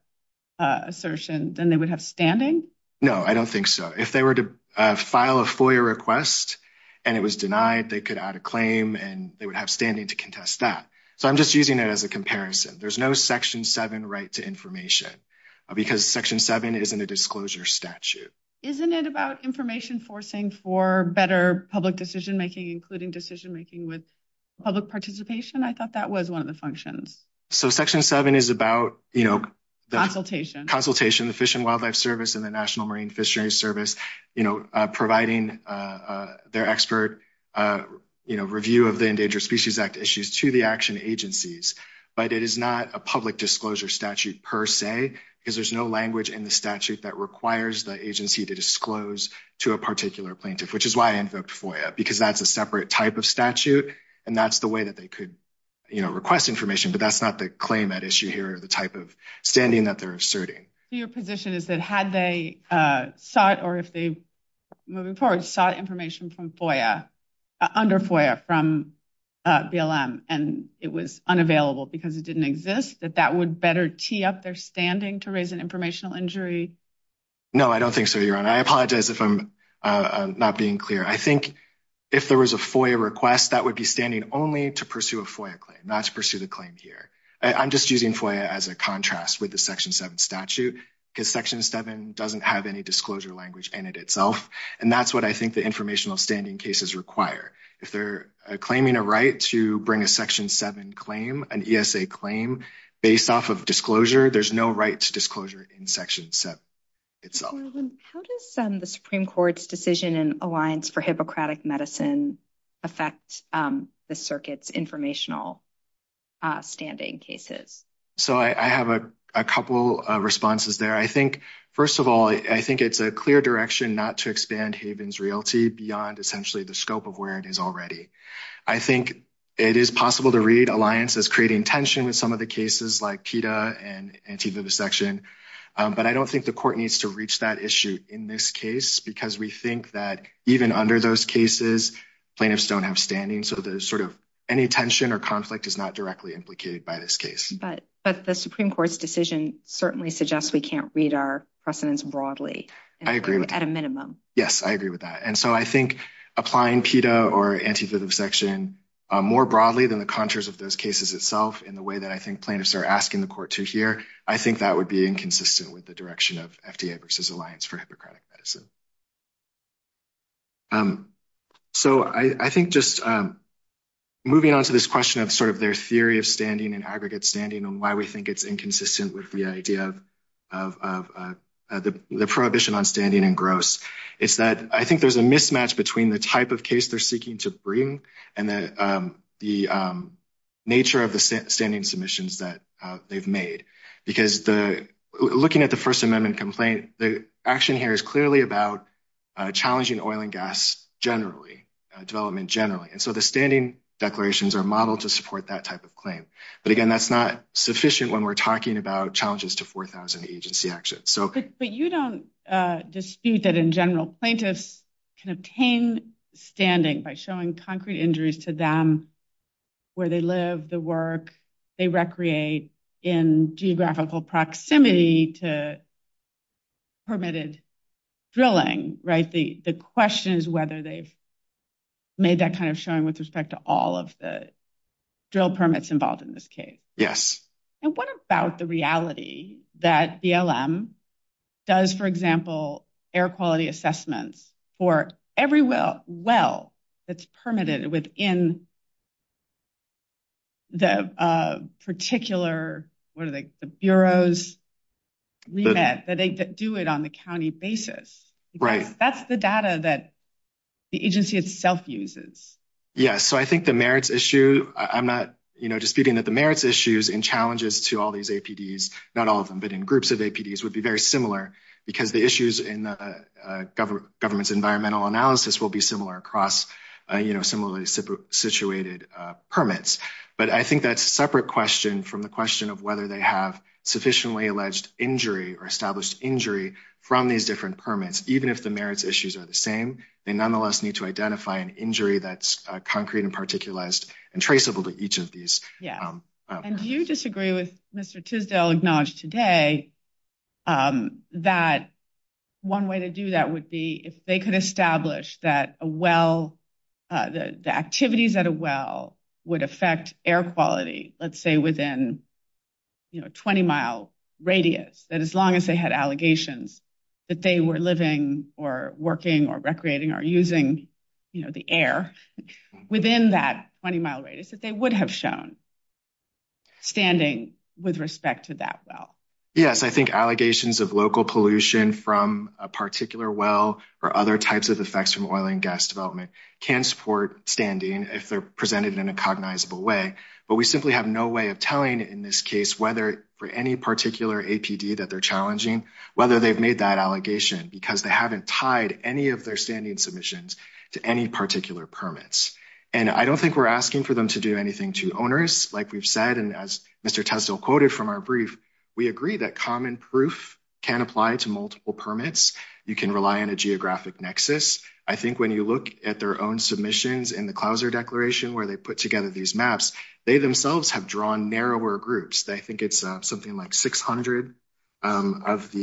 assertion, then they would have standing? No, I don't think so. If they were to file a FOIA request and it was denied, they could add a claim and they would have standing to contest that. So I'm just using it as a comparison. There's no Section 7 right to information because Section 7 isn't a disclosure statute. Isn't it about information forcing for better public decision-making, including decision-making with public participation? I thought that was one of the functions. So Section 7 is about, you know, the consultation, the Fish and Wildlife Service and the National Marine Fisheries Service, you know, providing their expert, you know, review of the Endangered Species Act issues to the action agencies. But it is not a public disclosure statute per se because there's no language in the statute that requires the agency to disclose to a particular plaintiff, which is why I invoked FOIA because that's a separate type of statute and that's the way that they could, you know, request information. But that's not the claim at issue here, the type of standing that they're asserting. Your position is that had they sought or if they, moving forward, sought information under FOIA from BLM and it was unavailable because it didn't exist, that that would tee up their standing to raise an informational injury? No, I don't think so, Your Honor. I apologize if I'm not being clear. I think if there was a FOIA request, that would be standing only to pursue a FOIA claim, not to pursue the claim here. I'm just using FOIA as a contrast with the Section 7 statute because Section 7 doesn't have any disclosure language in it itself. And that's what I think the informational standing cases require. If they're claiming a right to bring a Section 7 claim, an ESA claim, based off of disclosure, there's no right to disclosure in Section 7 itself. How does the Supreme Court's decision in Alliance for Hippocratic Medicine affect the circuit's informational standing cases? So I have a couple of responses there. I think, first of all, I think it's a clear direction not to expand Haven's royalty beyond essentially the scope of where it is already. I think it is possible to read Alliance as creating tension in some of the cases like PETA and antivirus section, but I don't think the court needs to reach that issue in this case because we think that even under those cases, plaintiffs don't have standing. So there's sort of any tension or conflict is not directly implicated by this case. But the Supreme Court's decision certainly suggests we can't read our precedents broadly. I agree with that. At a minimum. Yes, I agree with that. And so I think applying PETA or antivirus section more broadly than the contours of those cases itself in the way that I think plaintiffs are asking the court to here, I think that would be inconsistent with the direction of FDA versus Alliance for Hippocratic Medicine. So I think just moving on to this question of sort of their theory of standing and aggregate standing and why we think it's inconsistent with the idea of the prohibition on standing and gross is that I think there's a mismatch between the type of case they're seeking to bring and the nature of the standing submissions that they've made. Because looking at the First Amendment complaint, the action here is clearly about challenging oil and gas generally, development generally. And so the standing declarations are modeled to support that type of claim. But again, that's not sufficient when we're talking about challenges to 4,000 agency actions. But you don't dispute that in general plaintiffs can obtain standing by showing concrete injuries to them, where they live, the work they recreate in geographical proximity to permitted drilling, right? The question is whether they've made that kind of showing with respect to all of the drill permits involved in this case. Yes. And what about the reality that BLM does, for example, air quality assessments for every well that's permitted within the particular, what are they, the Bureau's remit that they do it on the county basis? Right. That's the data that the agency itself uses. Yes. So I think the merits issues and challenges to all these APDs, not all of them, but in groups of APDs would be very similar because the issues in the government's environmental analysis will be similar across similarly situated permits. But I think that's a separate question from the question of whether they have sufficiently alleged injury or established injury from these different permits. Even if the merits issues are the same, they nonetheless need to identify an injury that's concrete and particularized and traceable to each of these. Yeah. And do you disagree with Mr. Tisdale acknowledged today that one way to do that would be if they could establish that a well, the activities at a well would affect air quality, let's say within 20 mile radius, that as long as they had allegations that they were living or working or recreating or using the air within that 20 mile radius that they would have shown standing with respect to that well? Yes. I think allegations of local pollution from a particular well or other types of effects from oil and gas development can support standing if they're presented in a cognizable way. But we simply have no way of telling in this case, whether for any particular APD that they're challenging, whether they've made that allegation because they haven't tied any of their standing submissions to any particular permits. And I don't think we're asking for them to do anything to owners. Like we've said, and as Mr. Tisdale quoted from our brief, we agree that common proof can apply to multiple permits. You can rely on a geographic nexus. I think when you look at their own submissions in the clouser declaration, where they put together these maps, they themselves have drawn narrower groups. I think it's something like 600 of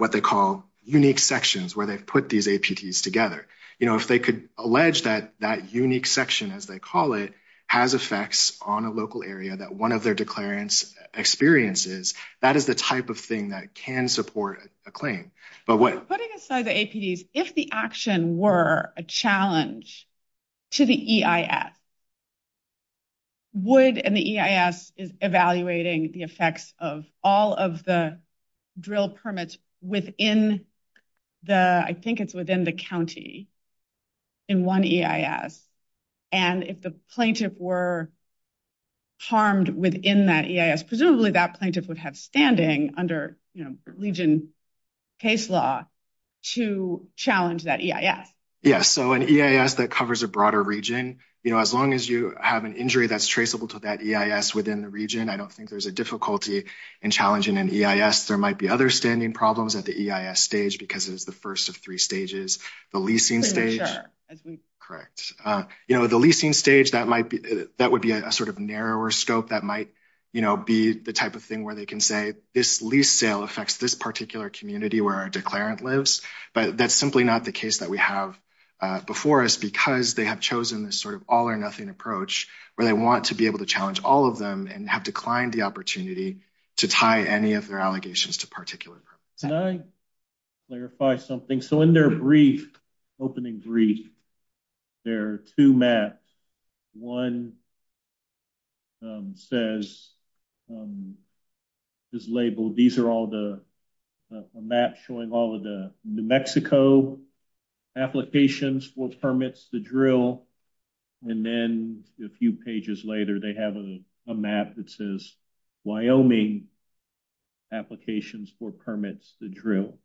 what they call unique sections where they put these APDs together. If they could allege that that unique section, as they call it, has effects on a local area that one of their declarants experiences, that is the type of thing that can support a claim. But putting aside the APDs, if the action were a challenge to the EIS, would an EIS is evaluating the effects of all of the drill permits within the, I think it's within the county in one EIS. And if the plaintiff were harmed within that EIS, presumably that plaintiff would have standing under Legion case law to challenge that EIS. Yeah. So an EIS that covers a broader region, as long as you have an injury that's traceable to that EIS within the region, I don't think there's a difficulty in challenging an EIS. There might be other standing problems at the EIS stage because it's the first of three stages, the leasing stage. Correct. The leasing stage, that would be a sort of narrower scope. That might be the type of thing where they can say this lease sale affects this particular community where our declarant lives. But that's simply not the case that we have before us because they have chosen this sort of all or nothing approach where they want to be able to challenge all of them and have declined the opportunity to tie any of their allegations to particular permits. Can I clarify something? So in their brief, opening brief, there are two maps. One says, is labeled, these are all the maps showing all of the New Mexico applications for permits to drill. And then a few pages later, they have a map that says Wyoming applications for permits to drill.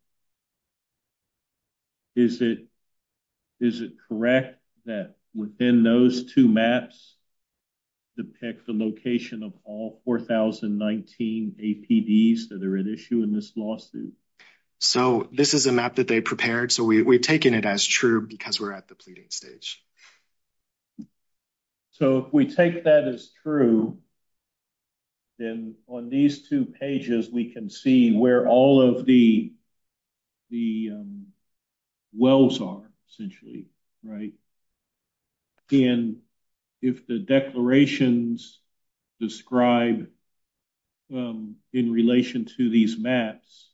Is it correct that within those two maps depict the location of all 4,019 APDs that are at issue in this lawsuit? So this is a map that they prepared. So we've taken it as true because we're at the pleading stage. So if we take that as true, then on these two pages, we can see where all of the wells are essentially, right? And if the declarations describe in relation to these maps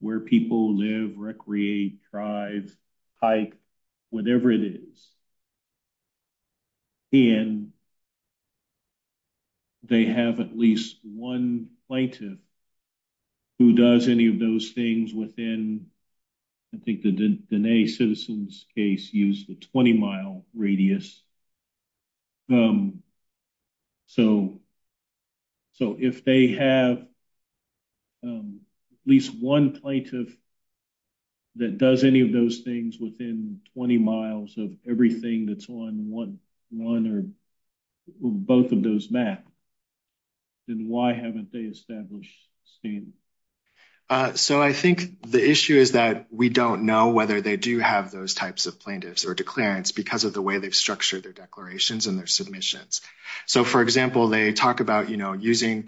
where people live, recreate, drive, hike, whatever it is, and they have at least one plaintiff who does any of those things within, I think the Diné citizens case used the 20-mile radius. So if they have at least one plaintiff that does any of those things within 20 miles of everything that's on one or both of those maps, then why haven't they established a scheme? So I think the issue is that we don't know whether they do have those types of plaintiffs or declarants because of the way they structure their declarations and their submissions. So for example, they talk about, you know, using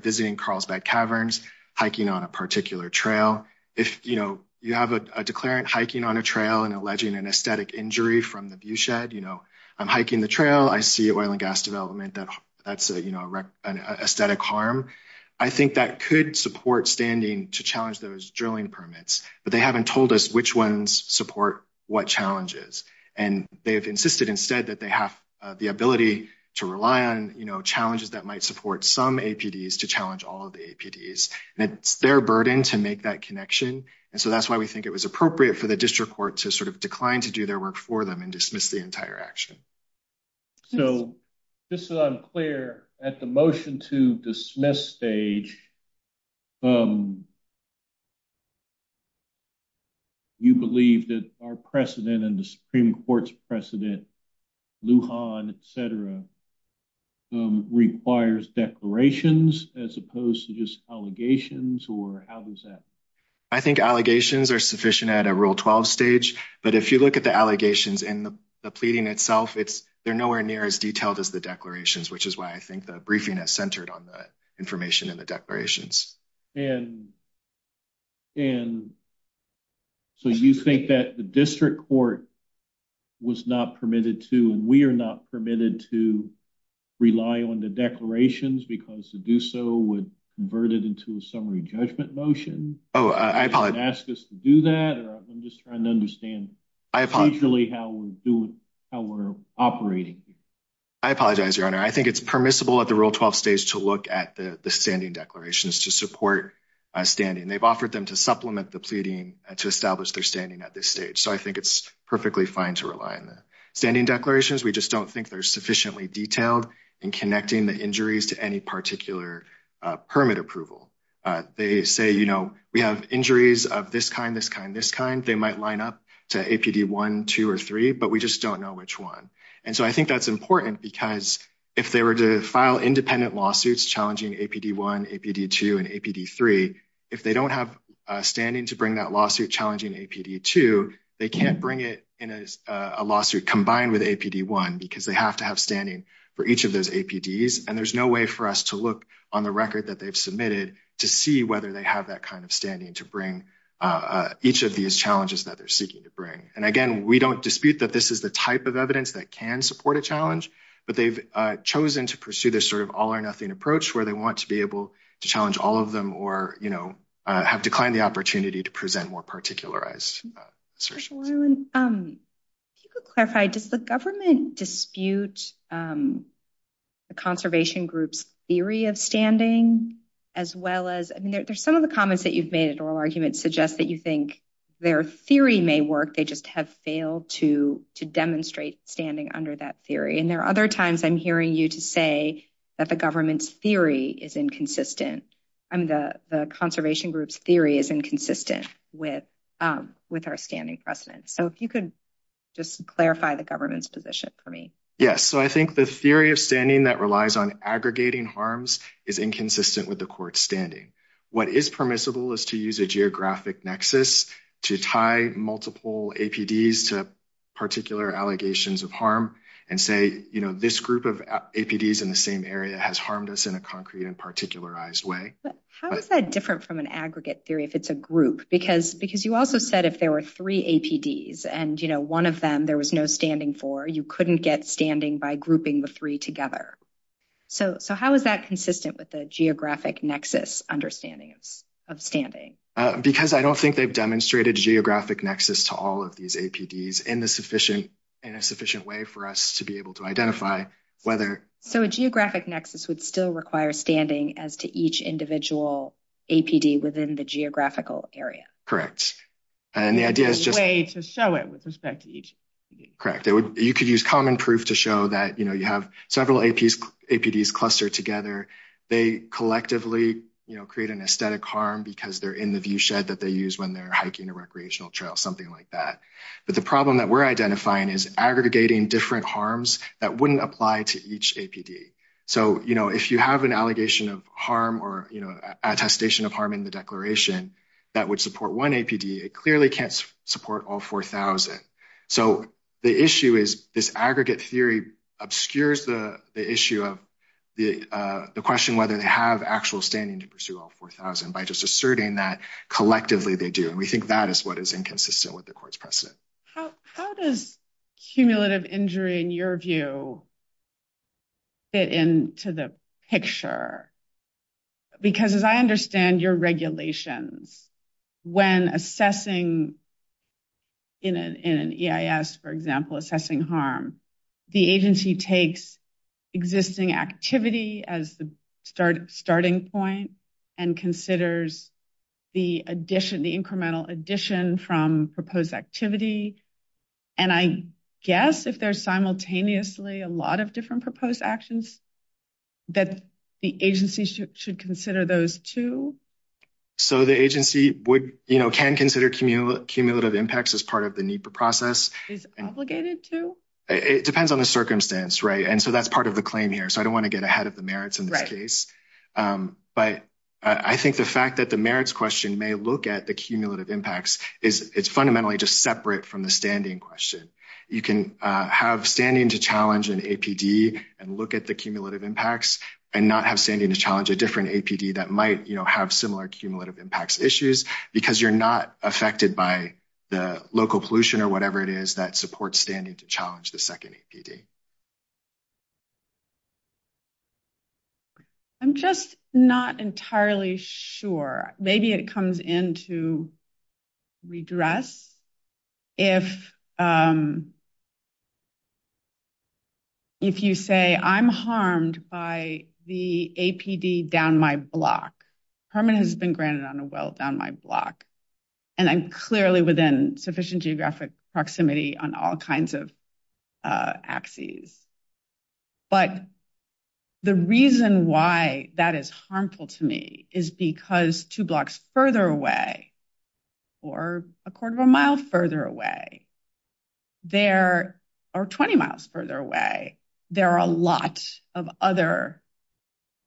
visiting Carlsbad Caverns, hiking on a particular trail. If, you know, you have a declarant hiking on a trail and alleging an aesthetic injury from the view shed, you know, I'm hiking the trail, I see oil and gas development, that's an aesthetic harm. I think that could support standing to challenge those drilling permits, but they haven't told us which ones support what challenges. And they've insisted instead that they have the ability to rely on, you know, challenges that might support some APDs to challenge all of the APDs. And it's their burden to make that connection. And so that's why we think it was appropriate for the district court to sort of decline to do their work for them and dismiss the entire action. So just so that I'm clear, at the motion to dismiss stage, you believe that our precedent and the Supreme Court's precedent, Lujan, et cetera, requires declarations as opposed to just allegations or how does that? I think allegations are sufficient at a Rule 12 stage. But if you look at the allegations in the pleading itself, they're nowhere near as detailed as the declarations, which is why I think the briefing is centered on the information in the declarations. And so you think that the district court was not permitted to, and we are not permitted to rely on the declarations because to do so would convert it into a summary judgment motion. Oh, I apologize. Ask us to do that or I'm just trying to understand how we're operating. I apologize, Your Honor. I think it's permissible at the Rule 12 stage to look at the standing declarations to support standing. They've offered them to supplement the pleading to establish their standing at this stage. So I think it's perfectly fine to rely on them. Standing declarations, we just don't think they're sufficiently detailed in connecting the injuries to any particular permit approval. They say, you know, we have injuries of this kind, this kind, this kind. They might line up to APD 1, 2, or 3, but we just don't know which one. And so I think that's important because if they were to file independent lawsuits challenging APD 1, APD 2, and APD 3, if they don't have standing to bring that lawsuit challenging APD 2, they can't bring it in a lawsuit combined with APD 1 because they have to have standing for each of those APDs. And there's no way for us to look on the record that they've submitted to see whether they have that kind of standing to bring each of these challenges that they're seeking to bring. And again, we don't dispute that this is the type of evidence that can support a challenge, but they've chosen to pursue this sort of all or nothing approach where they want to be to challenge all of them or, you know, have declined the opportunity to present more particularized search warrants. Can you clarify, does the government dispute the conservation group's theory of standing as well as, I mean, there's some of the comments that you've made in oral arguments suggest that you think their theory may work. They just have failed to demonstrate standing under that theory. And there are other times I'm hearing you to say that the government's theory is inconsistent. I mean, the conservation group's theory is inconsistent with our standing precedent. So if you could just clarify the government's position for me. Yes. So I think the theory of standing that relies on aggregating harms is inconsistent with the court's standing. What is permissible is to use a geographic nexus to tie multiple APDs to particular allegations of harm and say, you know, this group of APDs in the same area has harmed us in a concrete and particularized way. How is that different from an aggregate theory if it's a group? Because you also said if there were three APDs and, you know, one of them there was no standing for, you couldn't get standing by grouping the three together. So how is that consistent with the geographic nexus understanding of standing? Because I don't think they've demonstrated geographic nexus to all of these APDs in a sufficient way for us to be able to identify whether... So a geographic nexus would still require standing as to each individual APD within the geographical area. Correct. And the idea is just... A way to show it with respect to each... Correct. You could use common proof to show that, you know, you have several APDs clustered together. They collectively, you know, create an aesthetic harm because they're in the recreational trail, something like that. But the problem that we're identifying is aggregating different harms that wouldn't apply to each APD. So, you know, if you have an allegation of harm or, you know, attestation of harm in the declaration that would support one APD, it clearly can't support all 4,000. So the issue is this aggregate theory obscures the issue of the question whether they have actual standing to pursue all 4,000 by just asserting that collectively they do. And we think that is what is inconsistent with the court's precedent. How does cumulative injury, in your view, fit into the picture? Because as I understand your regulations, when assessing in an EIS, for example, assessing harm, the agency takes existing activity as the starting point and considers the addition, the incremental addition from proposed activity. And I guess if there's simultaneously a lot of different proposed actions, that the agency should consider those too? So the agency would, you know, can consider cumulative impacts as part of the need for process. Is it obligated to? It depends on the circumstance, right? And so that's part of the claim here. So I don't want to get ahead of the merits in this case. But I think the fact that the merits question may look at the cumulative impacts is it's fundamentally just separate from the standing question. You can have standing to challenge an APD and look at the cumulative impacts and not have standing to challenge a different APD that might, you know, have similar cumulative impacts issues because you're not affected by the local pollution or whatever it is that supports standing to challenge the second APD. I'm just not entirely sure. Maybe it comes into redress if you say I'm harmed by the APD down my block. Permit has been granted on a will down my block. And I'm clearly within sufficient geographic proximity on all kinds of axes. But the reason why that is harmful to me is because two blocks further away, or a quarter of a mile further away, or 20 miles further away, there are a lot of other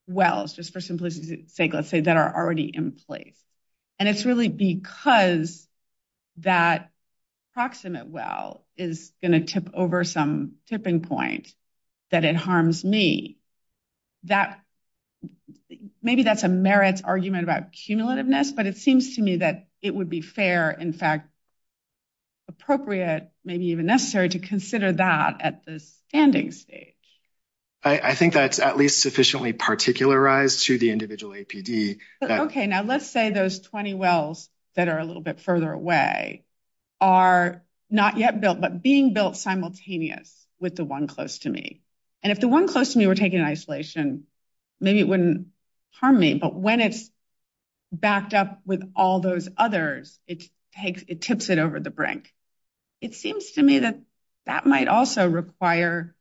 wells, just for simplicity's sake, let's say that are already in place. And it's really because that proximate well is going to tip over some tipping point that it harms me. Maybe that's a merits argument about cumulativeness, but it seems to me that it would be fair, in fact, appropriate, maybe even necessary to consider that at the standing stage. I think that's at least sufficiently particularized to the individual APD. Okay, now let's say those 20 wells that are a little bit further away are not yet built, but being built simultaneous with the one close to me. And if the one close to me were taking isolation, maybe it wouldn't harm me. But when it's backed up with all those others, it tips it over the brink. It seems to me that that might also require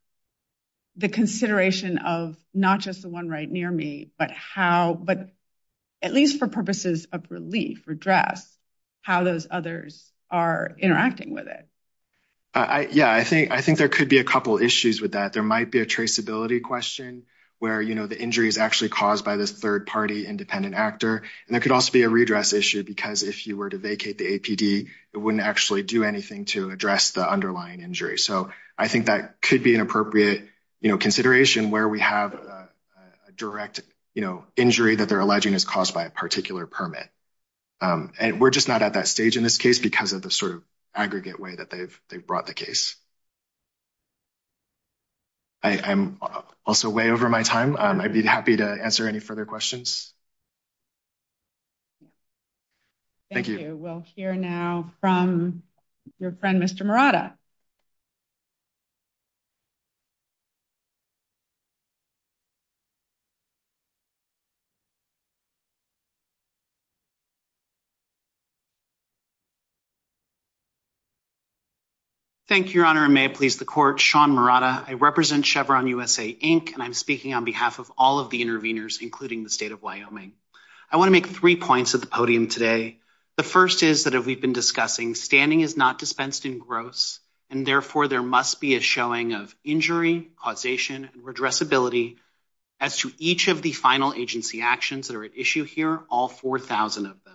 the consideration of not just the one right near me, but at least for purposes of relief or dress, how those others are interacting with it. Yeah, I think there could be a couple issues with that. There might be a traceability question where the injury is actually caused by the third party independent actor. And it could also be a redress issue because if you were to vacate the APD, it wouldn't actually do anything to address the underlying injury. So I think that could be an appropriate consideration where we have a direct injury that they're alleging is caused by a particular permit. And we're just not at that stage in this case because of the sort of aggregate way that they've brought the case. I'm also way over my time. I'd be happy to answer any further questions. Thank you. We'll hear now from your friend, Mr. Murata. Thank you, Your Honor. And may it please the court, Sean Murata. I represent Chevron USA, and I'm speaking on behalf of all of the interveners, including the state of Wyoming. I want to make three points at the podium today. The first is that we've been discussing standing is not dispensed in gross, and therefore there must be a showing of injury, causation, and redressability as to each of the final agency actions that are at issue here, all 4,000 of them.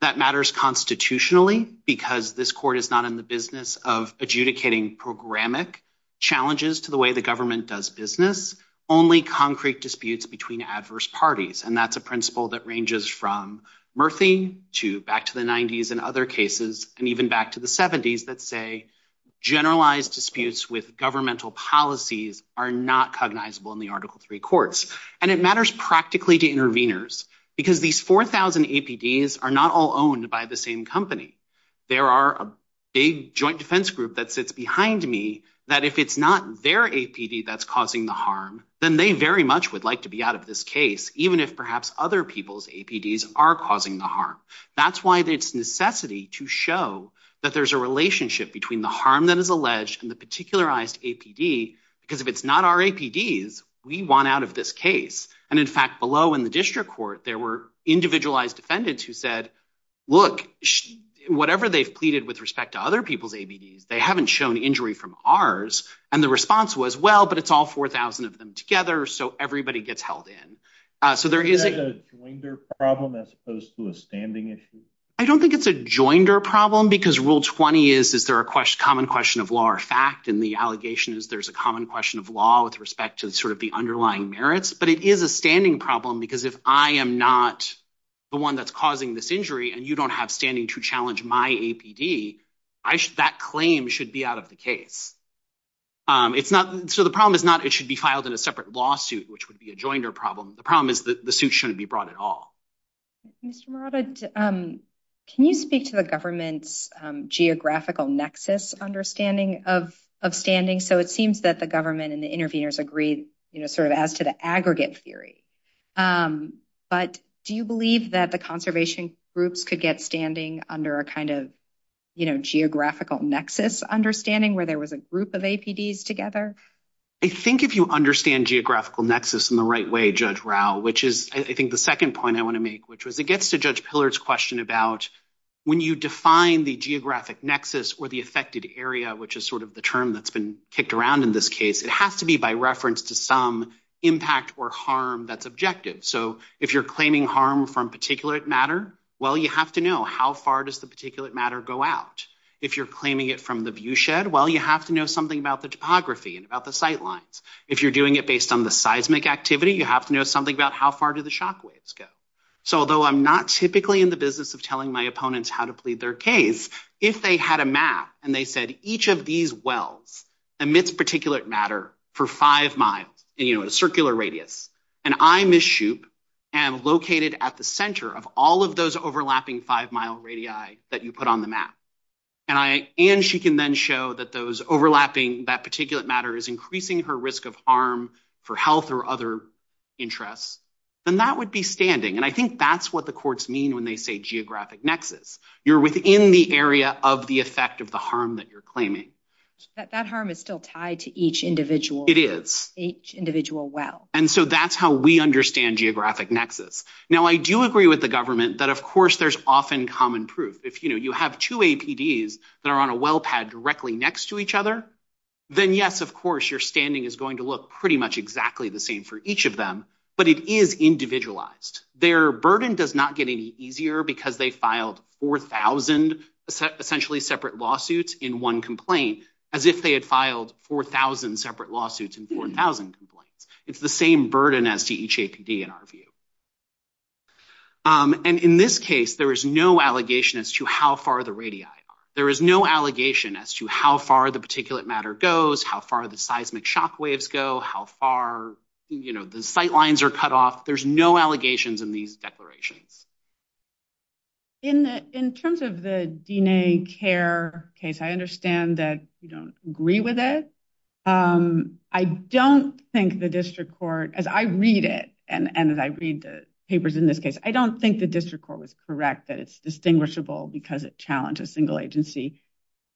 That matters constitutionally because this court is not in the business of adjudicating programmatic challenges to the way the government does business, only concrete disputes between adverse parties. And that's a principle that ranges from Murphy to back to the 90s and other cases, and even back to the 70s that say generalized disputes with governmental policies are not cognizable in the Article III courts. And it matters practically to interveners because these 4,000 APDs are not all owned by the same company. There are a big joint defense group that sits behind me that if it's not their APD that's causing the harm, then they very much would like to be out of this case, even if perhaps other people's APDs are causing the harm. That's why there's necessity to show that there's a relationship between the harm that is alleged and the particularized APD, because if it's not our APDs, we want out of this case. And in fact, below in the district court, there were individualized defendants who said, look, whatever they've pleaded with respect to other people's APDs, they haven't shown injury from ours. And the response was, well, but it's all 4,000 of them together, so everybody gets held in. So there is- Is that a joinder problem as opposed to a standing issue? I don't think it's a joinder problem because Rule 20 is, is there a common question of law or fact, and the allegation is there's a common question of law with respect to the underlying merits. But it is a standing problem because if I am not the one that's causing this injury and you don't have standing to challenge my APD, that claim should be out of the case. So the problem is not it should be filed in a separate lawsuit, which would be a joinder problem. The problem is the suit shouldn't be brought at all. Mr. Morava, can you speak to the government's geographical nexus understanding of standing? So it seems that the government and the interveners agreed sort of as to the aggregate theory, but do you believe that the conservation groups could get standing under a kind of geographical nexus understanding where there was a group of APDs together? I think if you understand geographical nexus in the right way, Judge Rauh, which is I think the second point I want to make, which was it gets to Judge Pillard's question about when you define the geographic nexus or the affected area, which is sort of the term that's been kicked around in this case, it has to be by reference to some impact or harm that's objective. So if you're claiming harm from particulate matter, well, you have to know how far does the particulate matter go out. If you're claiming it from the view shed, well, you have to know something about the topography and about the sight lines. If you're doing it based on the seismic activity, you have to know something about how far do the shock waves go. So although I'm not typically in the business of telling my opponents how to plead their case, if they had a map and they said each of these wells emits particulate matter for five miles in a circular radius, and I'm this chute and located at the center of all of those overlapping five mile radii that you put on the map, and she can then show that those overlapping, that particulate matter is increasing her risk of harm for health or other interests, then that would be standing. And I think that's what the courts mean when they say geographic nexus. You're within the area of the effect of the harm that you're claiming. That harm is still tied to each individual. It is. Each individual well. And so that's how we understand geographic nexus. Now, I do agree with the government that, of course, there's often common proof. If you have two APDs that are on a well pad directly next to each other, then yes, of course, your standing is going to look pretty much exactly the same for each of them, but it is individualized. Their burden does not get any easier because they filed 4,000 essentially separate lawsuits in one complaint as if they had filed 4,000 separate lawsuits in 4,000 complaints. It's the same burden as to each APD in our view. And in this case, there is no allegation as to how far the radii are. There is no allegation as to how far the particulate matter goes, how far the seismic shock waves go, how far the sight lines are cut off. There's no allegations in these declarations. In terms of the DNA care case, I understand that you don't agree with it. I don't think the district court, as I read it and as I read the papers in this case, I don't think the district court was correct that it's distinguishable because it challenges single agency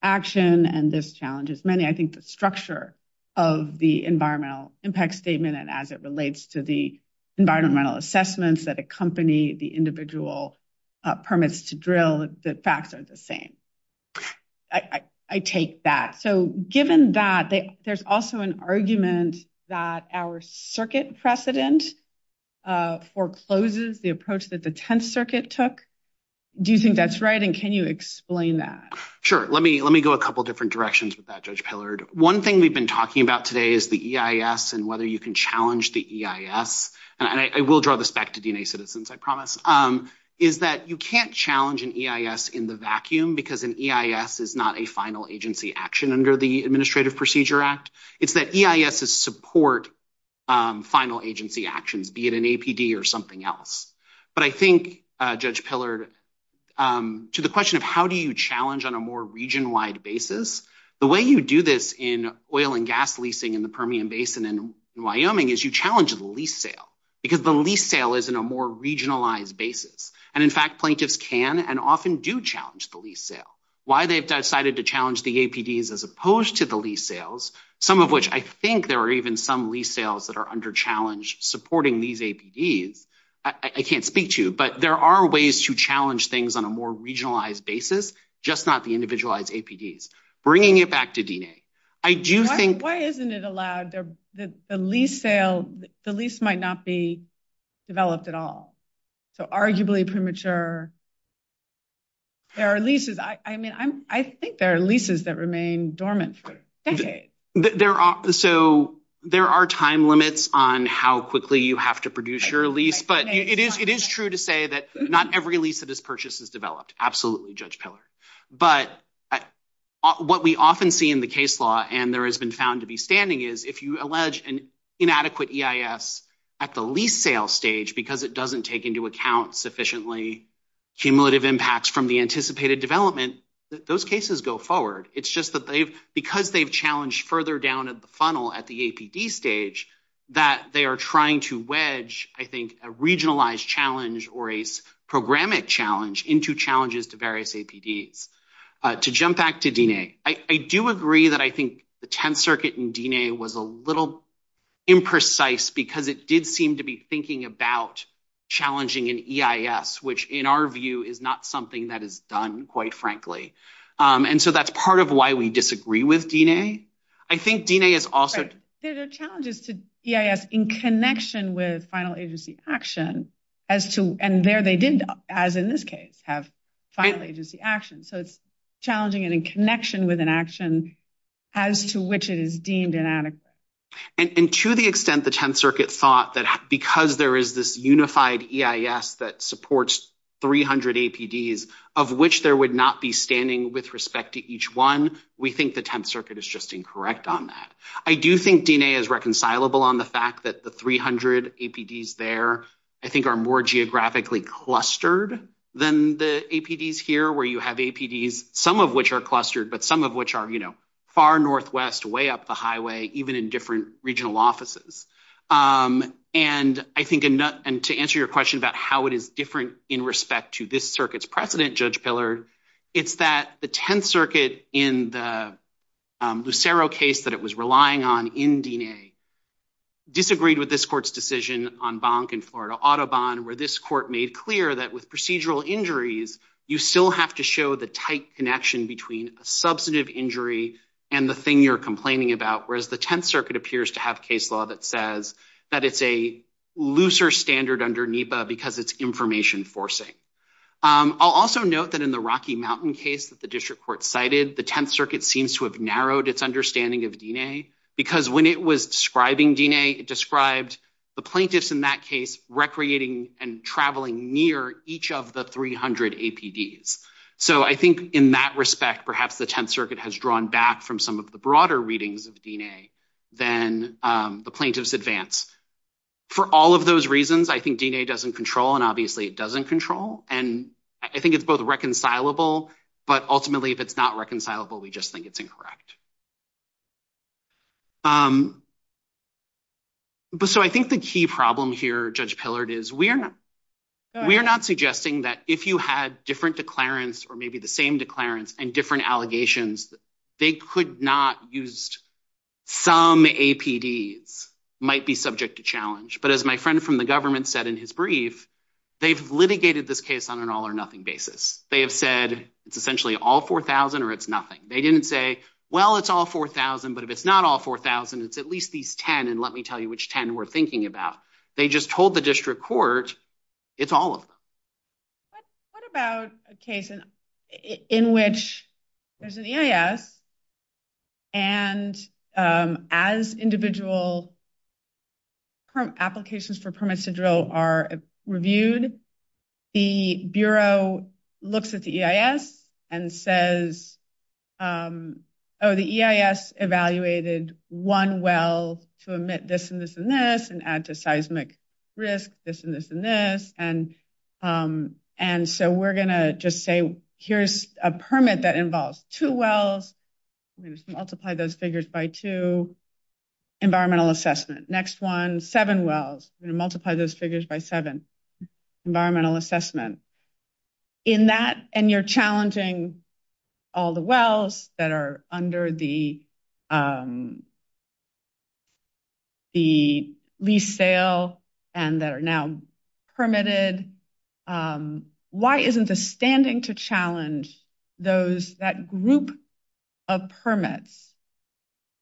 action and this challenges many. I think the structure of the environmental impact statement and as it individual permits to drill, the facts are the same. I take that. So given that, there's also an argument that our circuit precedent forecloses the approach that the Tenth Circuit took. Do you think that's right and can you explain that? Sure. Let me go a couple of different directions with that, Judge Pillard. One thing we've been talking about today is the EIS and whether you can challenge the EIS. And I will draw this back to DNA Citizens, I promise, is that you can't challenge an EIS in the vacuum because an EIS is not a final agency action under the Administrative Procedure Act. It's that EIS is support final agency actions, be it an APD or something else. But I think, Judge Pillard, to the question of how do you challenge on a more region-wide basis, the way you do this in oil and gas leasing in the Permian Basin in Wyoming is you challenge the lease sale because the lease sale is in a more regionalized basis. And in fact, plaintiffs can and often do challenge the lease sale. Why they've decided to challenge the APDs as opposed to the lease sales, some of which I think there are even some lease sales that are under challenge supporting these APDs, I can't speak to, but there are ways to challenge things on a more regionalized basis, just not the individualized APDs. Bringing it back to DNA, I do think- So arguably premature, there are leases. I mean, I think there are leases that remain dormant for decades. So there are time limits on how quickly you have to produce your lease, but it is true to say that not every lease that is purchased is developed. Absolutely, Judge Pillard. But what we often see in the case law and there has been found to be standing is if you allege an inadequate EIS at the lease sale stage, because it doesn't take into account sufficiently cumulative impacts from the anticipated development, those cases go forward. It's just that because they've challenged further down at the funnel at the APD stage, that they are trying to wedge, I think, a regionalized challenge or a programmatic challenge into challenges to various APDs. To jump back to DNA, I do agree that I think the 10th Circuit in DNA was a little imprecise because it did seem to be thinking about challenging an EIS, which in our view is not something that is done, quite frankly. And so that's part of why we disagree with DNA. I think DNA is also- There are challenges to EIS in connection with final agency action as to- And there they did, as in this case, have final agency action. So it's challenging and in connection with an action as to which is deemed inadequate. And to the extent the 10th Circuit thought that because there is this unified EIS that supports 300 APDs, of which there would not be standing with respect to each one, we think the 10th Circuit is just incorrect on that. I do think DNA is reconcilable on the fact that the 300 APDs there, I think, are more geographically clustered than the APDs here, where you have APDs, of which are clustered, but some of which are far Northwest, way up the highway, even in different regional offices. And to answer your question about how it is different in respect to this circuit's precedent, Judge Pillard, it's that the 10th Circuit in the Lucero case that it was relying on in DNA disagreed with this court's decision on Bank and Florida Audubon, where this court made clear that with procedural injuries, you still have to show the tight connection between a substantive injury and the thing you're complaining about, whereas the 10th Circuit appears to have case law that says that it's a looser standard under NEPA because it's information forcing. I'll also note that in the Rocky Mountain case that the district court cited, the 10th Circuit seems to have narrowed its understanding of DNA because when it was describing DNA, it described the plaintiffs in that case recreating and traveling near each of the 300 APDs. So I think in that respect, perhaps the 10th Circuit has drawn back from some of the broader readings of DNA than the plaintiffs advanced. For all of those reasons, I think DNA doesn't control, and obviously it doesn't control. And I think it's both reconcilable, but ultimately, if it's not reconcilable, we just think it's incorrect. But so I think the key problem here, Judge Pillard, is we are not suggesting that if you had different declarants or maybe the same declarants and different allegations, they could not use some APDs might be subject to challenge. But as my friend from the government said in his brief, they've litigated this case on an all or nothing basis. They have said it's essentially all 4,000 or it's nothing. They didn't say, well, it's all 4,000, but if it's not all 4,000, it's at least these 10, and let me tell you which 10 we're thinking about. They just told the district court it's all of them. What about a case in which there's an EIS and as individual applications for permits to drill are reviewed, the Bureau looks at the EIS and says, oh, the EIS evaluated one well to emit this and this and this and adds a seismic risk, this and this and this. And so we're gonna just say, here's a permit that involves two wells. I'm gonna just multiply those figures by two. Environmental assessment. Next one, seven wells. I'm gonna multiply those figures by seven. Environmental assessment. In that, and you're challenging all the wells that are under the lease sale and that are now permitted, why isn't the standing to challenge those, that group of permits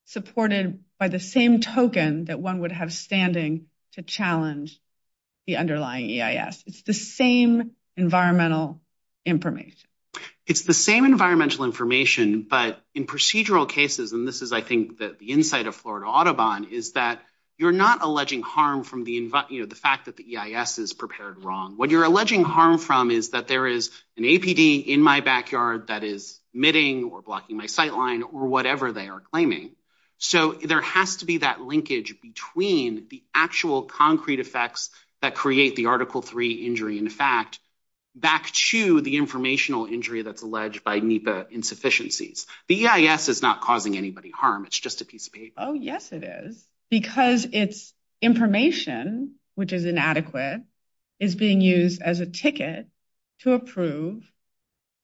supported by the same token that one would have standing to challenge the underlying EIS? It's the same environmental information. It's the same environmental information, but in procedural cases, and this is, I think, the insight of Florida Audubon is that you're not alleging harm from the fact that the EIS is prepared wrong. What you're alleging harm from is that there is an APD in my backyard that is emitting or blocking my sightline or whatever they are claiming. So there has to be that linkage between the actual concrete effects that create the Article III injury and the fact back to the informational injury that's alleged by NEPA insufficiencies. The EIS is not causing anybody harm. It's just a piece of paper. Oh, yes, it is. Because it's information, which is inadequate, is being used as a ticket to approve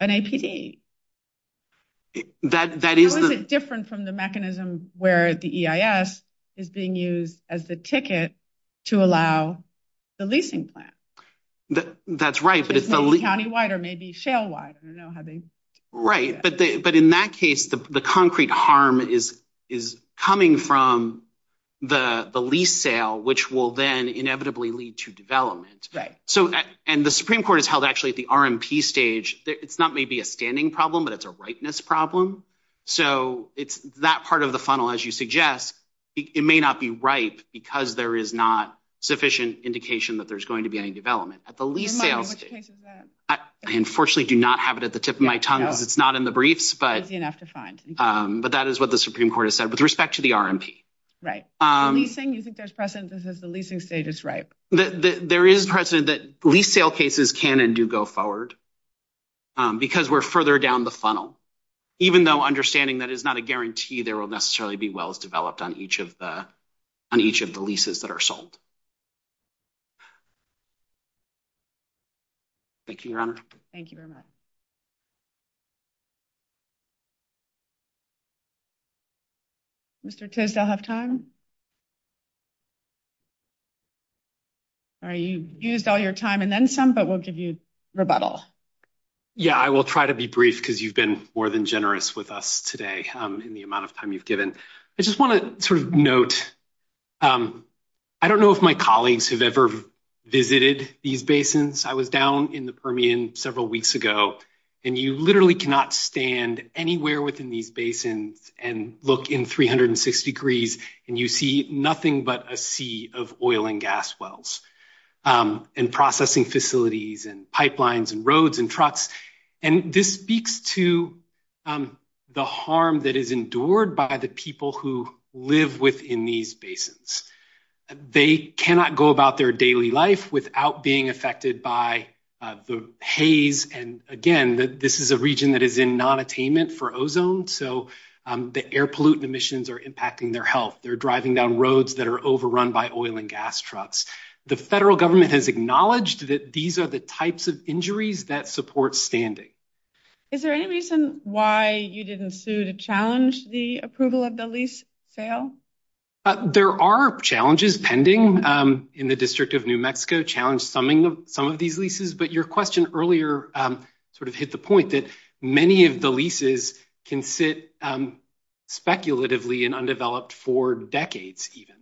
an APD. That is a- It's a little bit different from the mechanism where the EIS is being used as the ticket to allow the leasing plan. That's right, but it's the leasing- Maybe countywide or maybe shale wide. I don't know how they- Right, but in that case, the concrete harm is coming from the lease sale, which will then inevitably lead to development. And the Supreme Court has held actually at the RMP stage that it's not maybe a standing problem, but it's a ripeness problem. So that part of the funnel, as you suggest, it may not be ripe because there is not sufficient indication that there's going to be any development. At the lease sale- I don't know which tank is that. I unfortunately do not have it at the tip of my tongue because it's not in the briefs, but- It's easy enough to find. But that is what the Supreme Court has said with respect to the RMP. Right. The leasing, you think there's precedent that says the leasing stage is ripe? There is precedent that lease sale cases can and do go forward because we're further down the funnel, even though understanding that it's not a guarantee there will necessarily be wells developed on each of the leases that are sold. Thank you, Your Honor. Thank you very much. Mr. Tiz, do I have time? All right, you've used all your time and then some, but we'll give you rebuttal. Yeah, I will try to be brief because you've been more than generous with us today in the amount of time you've given. I just want to note, I don't know if my colleagues have ever visited these basins. I was down in the Permian several weeks ago and you literally cannot stand anywhere within these basins and look in 360 degrees and you see nothing but a sea of oil and gas wells and processing facilities and pipelines and roads and trucks. This speaks to the harm that is endured by the people who live within these basins. They cannot go about their daily life without being affected by the haze. Again, this is a region that is in non-attainment for ozone, so the air pollutant emissions are impacting their health. They're driving down roads that are overrun by oil and gas trucks. The federal government has acknowledged that these are the types of injuries that support standing. Is there any reason why you didn't sue to challenge the approval of the lease sale? There are challenges pending in the District of New Mexico, challenge summing some of these leases, but your question earlier sort of hit the point that many of the leases can sit speculatively and undeveloped for decades even.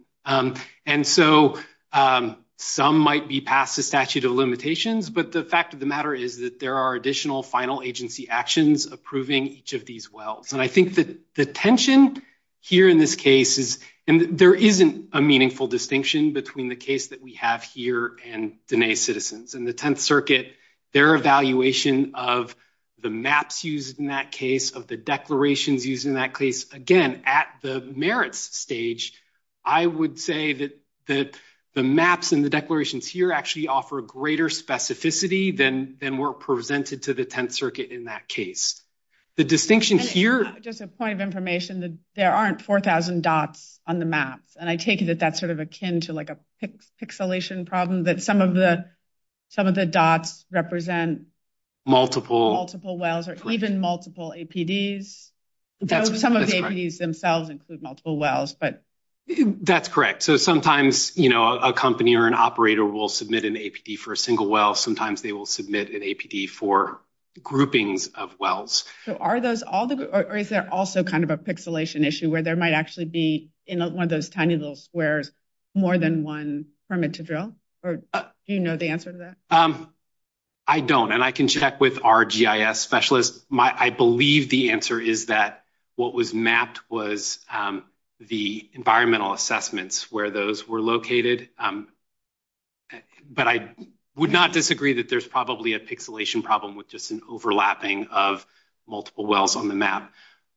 Some might be past the statute of limitations, but the fact of the matter is that there are additional final agency actions approving each of these wells. I think that the tension here in this case is, and there isn't a meaningful distinction between the case that we have here and Diné citizens. In the Tenth Circuit, their evaluation of the maps used in that case, of the declarations used in that case, again, at the merits stage, I would say that the maps and the declarations here actually offer greater specificity than were presented to the Tenth Circuit in that case. The distinction here- Just a point of information that there aren't 4,000 dots on the map, and I take it that that's akin to a pixelation problem, that some of the dots represent multiple wells or even multiple APDs? Some of the APDs themselves include multiple wells, but- That's correct. Sometimes a company or an operator will submit an APD for a single well. Sometimes they will submit an APD for groupings of wells. Are those all, or is there also kind of a pixelation issue where there might be, in one of those tiny little squares, more than one permit to drill? Do you know the answer to that? I don't, and I can check with our GIS specialist. I believe the answer is that what was mapped was the environmental assessments where those were located, but I would not disagree that there's probably a pixelation problem with just an overlapping of multiple wells on the map.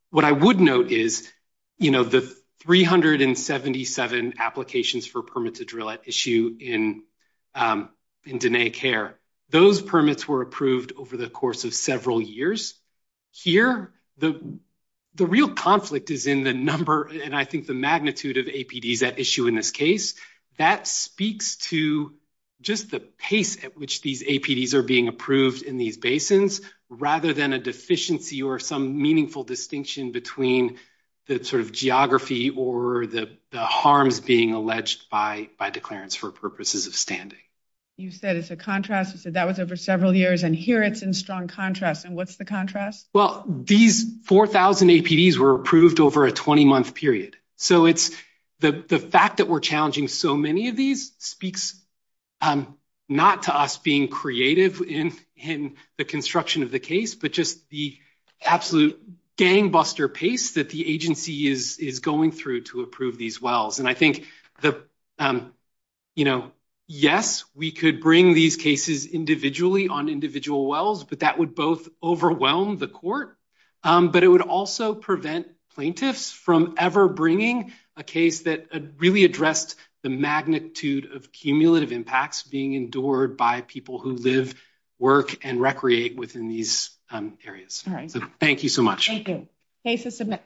What I would note is, you know, the 377 applications for permits to drill at issue in Diné CARE, those permits were approved over the course of several years. Here, the real conflict is in the number, and I think the magnitude of APDs at issue in this case. That speaks to just the pace at which these APDs are being approved in these basins, rather than a deficiency or some meaningful distinction between the sort of geography or the harms being alleged by declarants for purposes of standing. You said it's a contrast. You said that was over several years, and here it's in strong contrast, and what's the contrast? Well, these 4,000 APDs were approved over a 20-month period, so it's the fact that we're challenging so many of these speaks not to us being creative in the construction of the case, but just the absolute gangbuster pace that the agency is going through to approve these wells, and I think the, you know, yes, we could bring these cases individually on individual wells, but that would both overwhelm the court, but it would also prevent plaintiffs from ever bringing a case that really addressed the magnitude of cumulative impacts being endured by people who live, work, and recreate within these areas. All right. Thank you so much. Thank you. Case is submitted.